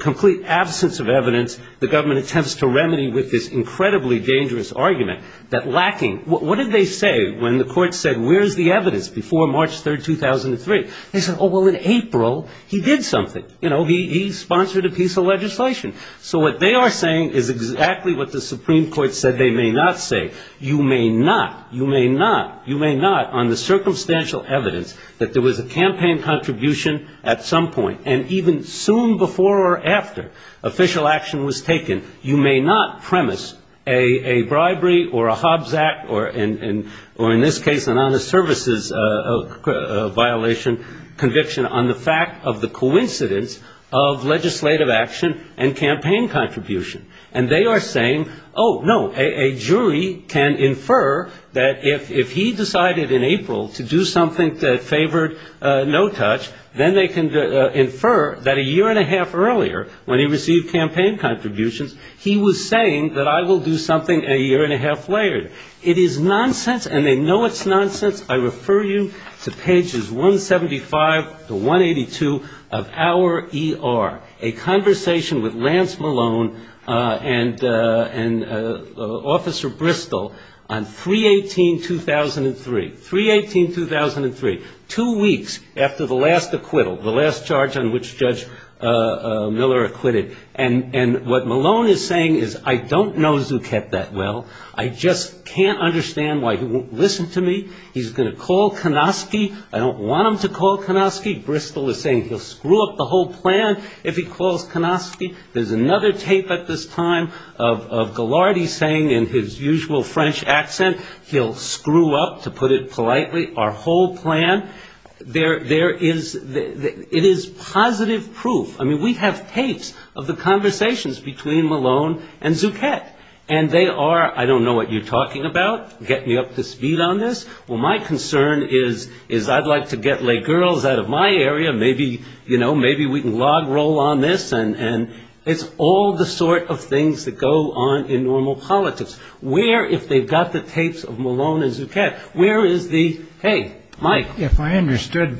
complete absence of evidence. The government attempts to remedy with this incredibly dangerous argument that lacking. What did they say when the court said where's the evidence before March 3, 2003? They said, oh, well, in April, he did something. You know, he sponsored a piece of legislation. So what they are saying is exactly what the Supreme Court said they may not say. You may not, you may not, you may not on the circumstantial evidence that there was a campaign contribution at some point, and even soon before or after official action was taken, you may not premise a bribery or a Hobbs Act, or in this case, an honest services violation conviction on the fact of the coincidence of legislative action and campaign contribution. And they are saying, oh, no, a jury can infer that if he decided in April to do something that favored no touch, then they can infer that a year and a half earlier when he received campaign contributions, he was saying that I will do something a year and a half later. It is nonsense, and they know it's nonsense. I refer you to pages 175 to 182 of our ER, a conversation with Lance Malone and Officer Bristol on 3-18-2003, 3-18-2003, two weeks after the last acquittal, the last charge on which Judge Miller acquitted. And what Malone is saying is, I don't know Zuket that well. I just can't understand why he won't listen to me. He's going to call Konofsky. I don't want him to call Konofsky. Bristol is saying he'll screw up the whole plan if he calls Konofsky. There's another tape at this time of Ghilardi saying in his usual French accent, he'll screw up, to put it politely, our whole plan. There is, it is positive proof. I mean, we have tapes of the conversations between Malone and Zuket, and they are, I don't know what you're talking about, getting me up to speed on this. Well, my concern is I'd like to get lay girls out of my area. Maybe, you know, maybe we can log roll on this. And it's all the sort of things that go on in normal politics. Where, if they've got the tapes of Malone and Zuket, where is the, hey, Mike? If I understood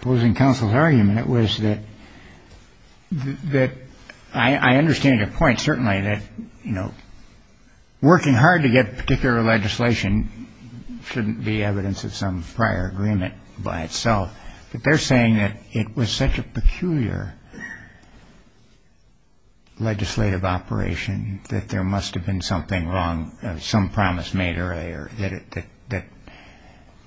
opposing counsel's argument, it was that I understand your point, certainly, that, you know, working hard to get particular legislation shouldn't be evidence of some prior agreement by itself. But they're saying that it was such a peculiar legislative operation that there must have been something wrong, some promise made earlier,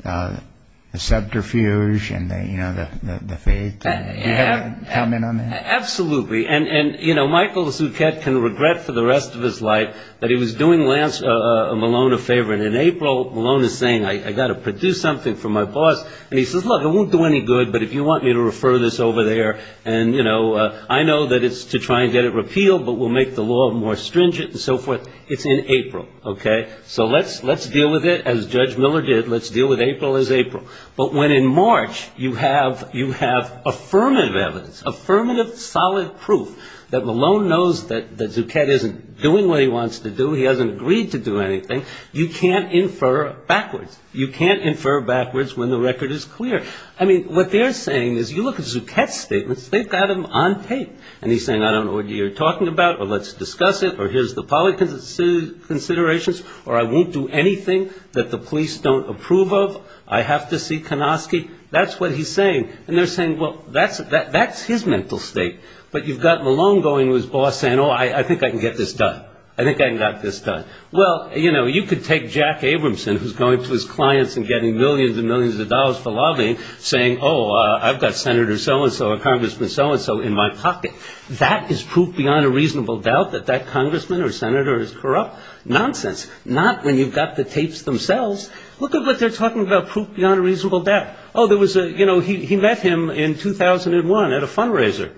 that the subterfuge and, you know, the faith. Do you have a comment on that? Absolutely. And, you know, Michael Zuket can regret for the rest of his life that he was doing Malone a favor. And in April, Malone is saying, I've got to produce something for my boss. And he says, look, it won't do any good, but if you want me to refer this over there, and, you know, I know that it's to try and get a repeal, but we'll make the law more stringent and so forth. It's in April. Okay? So let's deal with it as Judge Miller did. Let's deal with April as April. But when in March you have affirmative evidence, affirmative solid proof that Malone knows that Zuket isn't doing what he wants to do, he hasn't agreed to do anything, you can't infer backwards. You can't infer backwards when the record is clear. I mean, what they're saying is, you look at Zuket's statements. They've got him on tape. And he's saying, I don't know what you're talking about, or let's discuss it, or here's the policy considerations, or I won't do anything that the police don't approve of. I have to see Konofsky. That's what he's saying. And they're saying, well, that's his mental state. But you've got Malone going with his boss saying, oh, I think I can get this done. I think I can get this done. Well, you know, you could take Jack Abramson, who's going to his clients and getting millions and millions of dollars for lobbying, saying, oh, I've got Senator so-and-so or Congressman so-and-so in my pocket. That is proof beyond a reasonable doubt that that Congressman or Senator is corrupt. Nonsense. Not when you've got the tapes themselves. Look at what they're talking about, proof beyond a reasonable doubt. Oh, there was a, you know, he met him in 2001 at a fundraiser.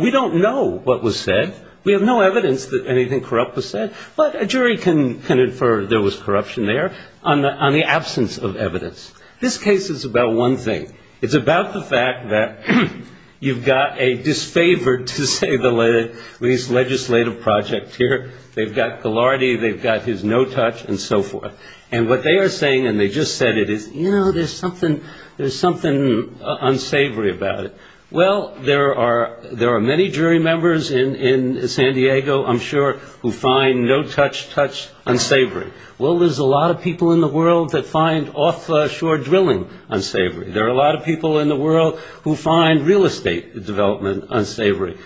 We don't know what was said. We have no evidence that anything corrupt was said. But a jury can infer there was corruption there on the absence of evidence. This case is about one thing. It's about the fact that you've got a disfavored, to say the least, legislative project here. They've got Ghilardi. They've got his no touch and so forth. And what they are saying, and they just said it, is, you know, there's something unsavory about it. Well, there are many jury members in San Diego, I'm sure, who find no touch unsavory. Well, there's a lot of people in the world that find offshore drilling unsavory. There are a lot of people in the world who find real estate development unsavory.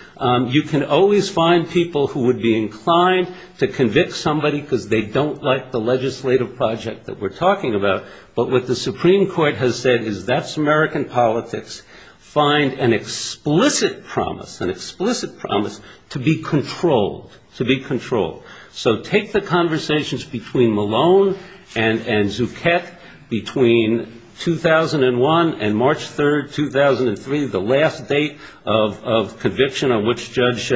You can always find people who would be inclined to convict somebody because they don't like the legislative project that we're talking about. But what the Supreme Court has said is that's American politics. Find an explicit promise, an explicit promise to be controlled, to be controlled. So take the conversations between Malone and Zuckett between 2001 and March 3rd, 2003, the last date of conviction on which Judge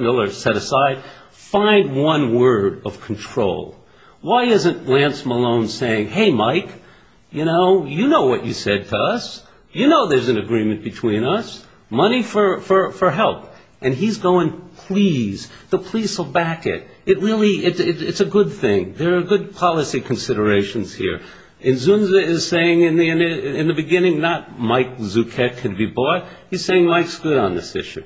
Miller set aside. Find one word of control. Why isn't Lance Malone saying, hey, Mike, you know, you know what you said to us. You know there's an agreement between us. Money for help. And he's going, please, the police will back it. It really, it's a good thing. There are good policy considerations here. And Zunza is saying in the beginning not Mike Zuckett can be bought. He's saying Mike's good on this issue.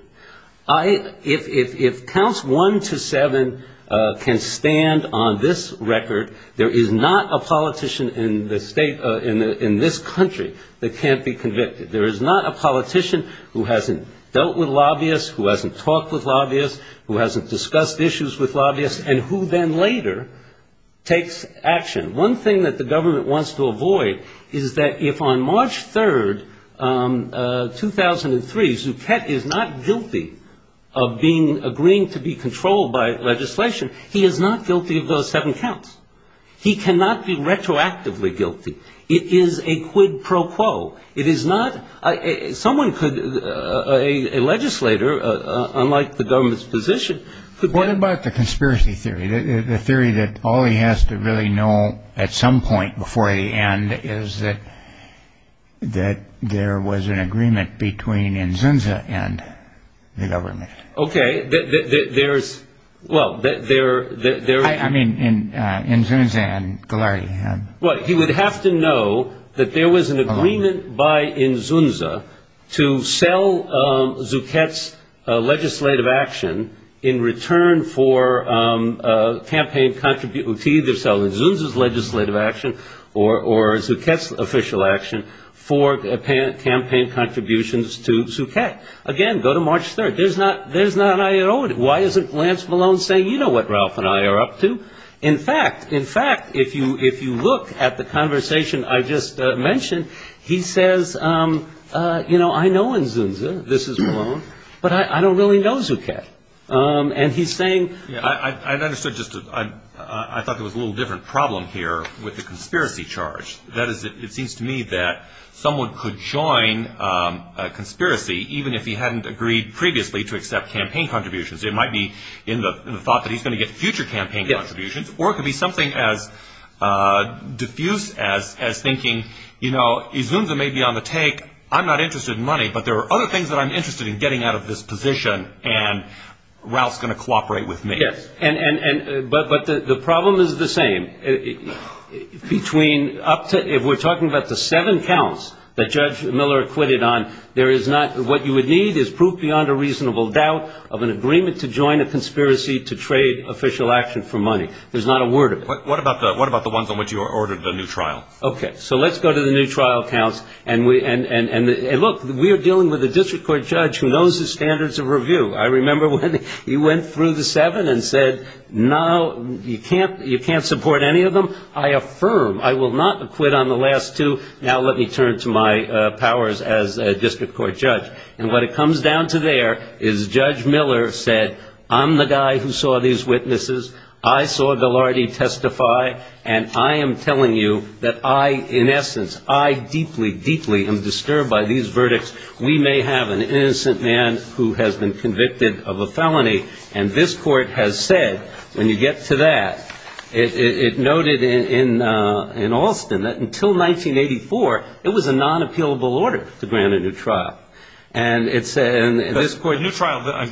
If counts one to seven can stand on this record, there is not a politician in this country that can't be convicted. There is not a politician who hasn't dealt with lobbyists, who hasn't talked with lobbyists, who hasn't discussed issues with lobbyists, and who then later takes action. One thing that the government wants to avoid is that if on March 3rd, 2003, Zuckett is not guilty of being, agreeing to be controlled by legislation, he is not guilty of those seven counts. He cannot be retroactively guilty. It is a quid pro quo. It is not, someone could, a legislator, unlike the government's position. What about the conspiracy theory? The theory that all he has to really know at some point before the end is that there was an agreement between Zunza and the government. Okay, that there is, well, that there is. I mean, Zunza and Golarity. Well, he would have to know that there was an agreement by Zunza to sell Zuckett's legislative action in return for campaign contributions. He would sell Zunza's legislative action or Zuckett's official action for campaign contributions to Zuckett. Again, go to March 3rd. There is not an irony. Why isn't Lance Malone saying, you know what Ralph and I are up to? In fact, in fact, if you look at the conversation I just mentioned, he says, you know, I know in Zunza, this is Malone, but I don't really know Zuckett. And he's saying. I thought there was a little different problem here with the conspiracy charge. That is, it seems to me that someone could join a conspiracy even if he hadn't agreed previously to accept campaign contributions. It might be in the thought that he's going to get future campaign contributions. Or it could be something as diffuse as thinking, you know, if Zunza may be on the take, I'm not interested in money, but there are other things that I'm interested in getting out of this position, and Ralph's going to cooperate with me. Yes, but the problem is the same. Between up to, if we're talking about the seven counts that Judge Miller acquitted on, there is not, what you would need is proof beyond a reasonable doubt of an agreement to join a conspiracy to trade official action for money. There's not a word of it. What about the ones on which you ordered the new trial? Okay, so let's go to the new trial counts, and look, we're dealing with a district court judge who knows his standards of review. I remember when he went through the seven and said, no, you can't support any of them. I affirm, I will not acquit on the last two. Now let me turn to my powers as a district court judge. And what it comes down to there is Judge Miller said, I'm the guy who saw these witnesses. I saw Velardi testify, and I am telling you that I, in essence, I deeply, deeply am disturbed by these verdicts. We may have an innocent man who has been convicted of a felony, and this court has said, when you get to that, it noted in Alston that until 1984, it was a non-appealable order to grant a new trial. And it's in this court. The new trial,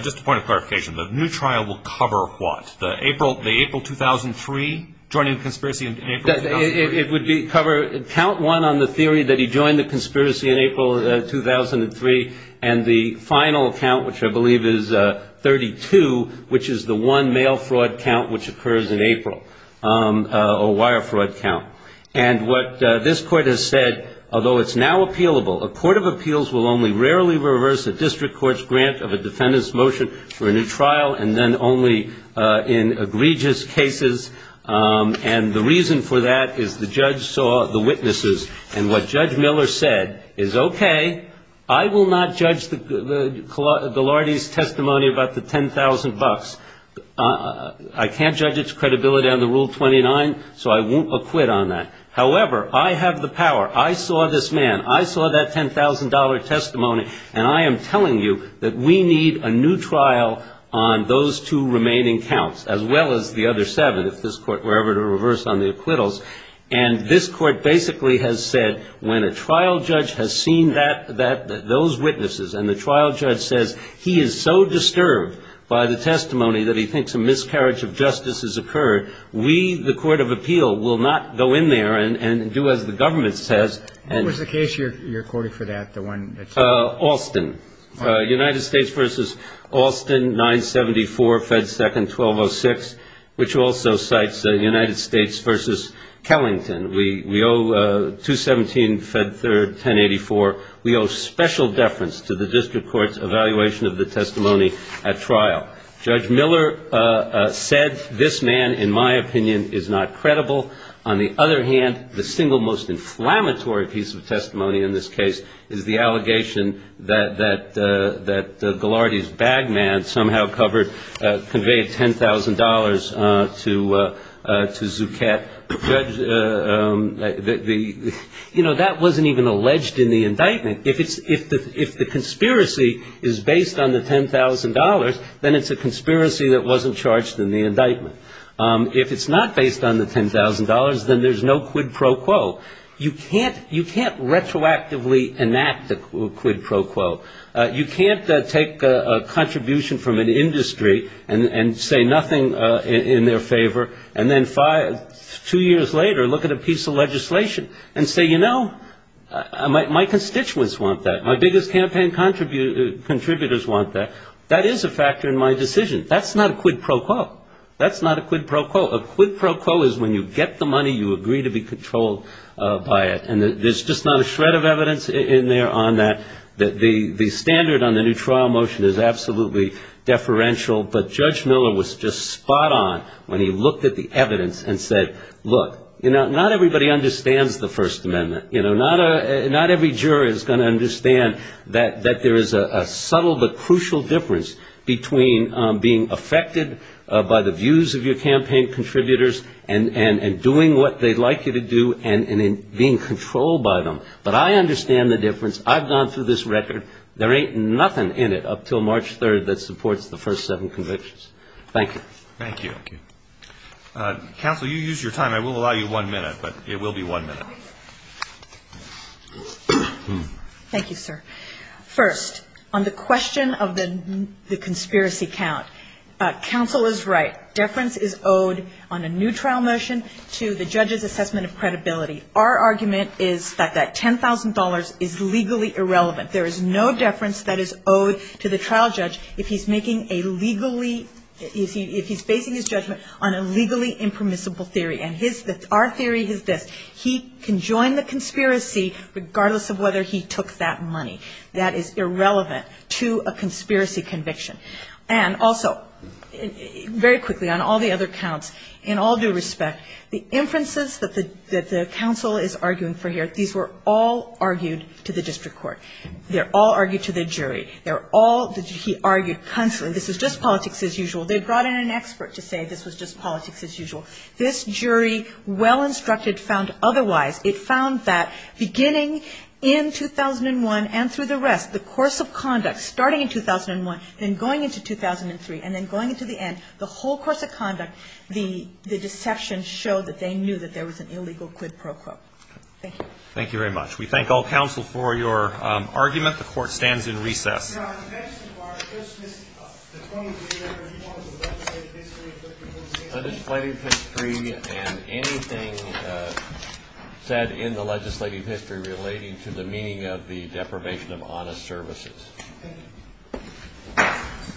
just a point of clarification, the new trial will cover what? The April 2003, joining the conspiracy in April? It would cover, count one on the theory that he joined the conspiracy in April 2003, and the final count, which I believe is 32, which is the one male fraud count which occurs in April, a wire fraud count. And what this court has said, although it's now appealable, a court of appeals will only rarely reverse a district court's grant of a defendant's motion for a new trial, and then only in egregious cases, and the reason for that is the judge saw the witnesses. And what Judge Miller said is, okay, I will not judge the Ghilardi's testimony about the $10,000. I can't judge its credibility under Rule 29, so I won't acquit on that. However, I have the power. I saw this man. I saw that $10,000 testimony, and I am telling you that we need a new trial on those two remaining counts, as well as the other seven, if this court were ever to reverse on the acquittals. And this court basically has said, when a trial judge has seen those witnesses and the trial judge says he is so disturbed by the testimony that he thinks a miscarriage of justice has occurred, we, the court of appeal, will not go in there and do as the government says. What was the case you're quoting for that? Alston. United States v. Alston, 974, Fed 2nd, 1206, which also cites the United States v. Kellington. We owe 217, Fed 3rd, 1084. We owe special deference to the district court's evaluation of the testimony at trial. Judge Miller said, this man, in my opinion, is not credible. On the other hand, the single most inflammatory piece of testimony in this case is the allegation that Gilardi's bag man somehow conveyed $10,000 to Zuckett. You know, that wasn't even alleged in the indictment. If the conspiracy is based on the $10,000, then it's a conspiracy that wasn't charged in the indictment. If it's not based on the $10,000, then there's no quid pro quo. You can't retroactively enact the quid pro quo. You can't take a contribution from an industry and say nothing in their favor, and then two years later look at a piece of legislation and say, you know, my constituents want that. My biggest campaign contributors want that. That is a factor in my decision. That's not a quid pro quo. That's not a quid pro quo. A quid pro quo is when you get the money, you agree to be controlled by it, and there's just not a shred of evidence in there on that. The standard on the new trial motion is absolutely deferential, but Judge Miller was just spot on when he looked at the evidence and said, look, not everybody understands the First Amendment. Not every juror is going to understand that there is a subtle but crucial difference between being affected by the views of your campaign contributors and doing what they'd like you to do and being controlled by them. But I understand the difference. I've gone through this record. There ain't nothing in it up until March 3rd that supports the first seven convictions. Thank you. Thank you. Counsel, you used your time. I will allow you one minute, but it will be one minute. Thank you, sir. First, on the question of the conspiracy count, counsel is right. Deference is owed on a new trial motion to the judge's assessment of credibility. Our argument is that that $10,000 is legally irrelevant. There is no deference that is owed to the trial judge if he's making a legally, if he's basing his judgment on a legally impermissible theory, and our theory is that he can join the conspiracy regardless of whether he took that money. That is irrelevant to a conspiracy conviction. And also, very quickly, on all the other counts, in all due respect, the inferences that the counsel is arguing for here, these were all argued to the district court. They're all argued to the jury. They're all, he argued, this was just politics as usual. They brought in an expert to say this was just politics as usual. This jury, well instructed, found otherwise. It found that beginning in 2001 and through the rest, the course of conduct, starting in 2001, then going into 2003, and then going into the end, the whole course of conduct, the deception showed that they knew that there was an illegal quid pro quo. Thank you. Thank you very much. We thank all counsel for your argument. The court stands in recess. Your Honor, on the back of the bar, does the court agree that there is a report of the legislative history of the presentation? The legislative history and anything said in the legislative history relating to the meaning of the deprivation of honest services. Thank you.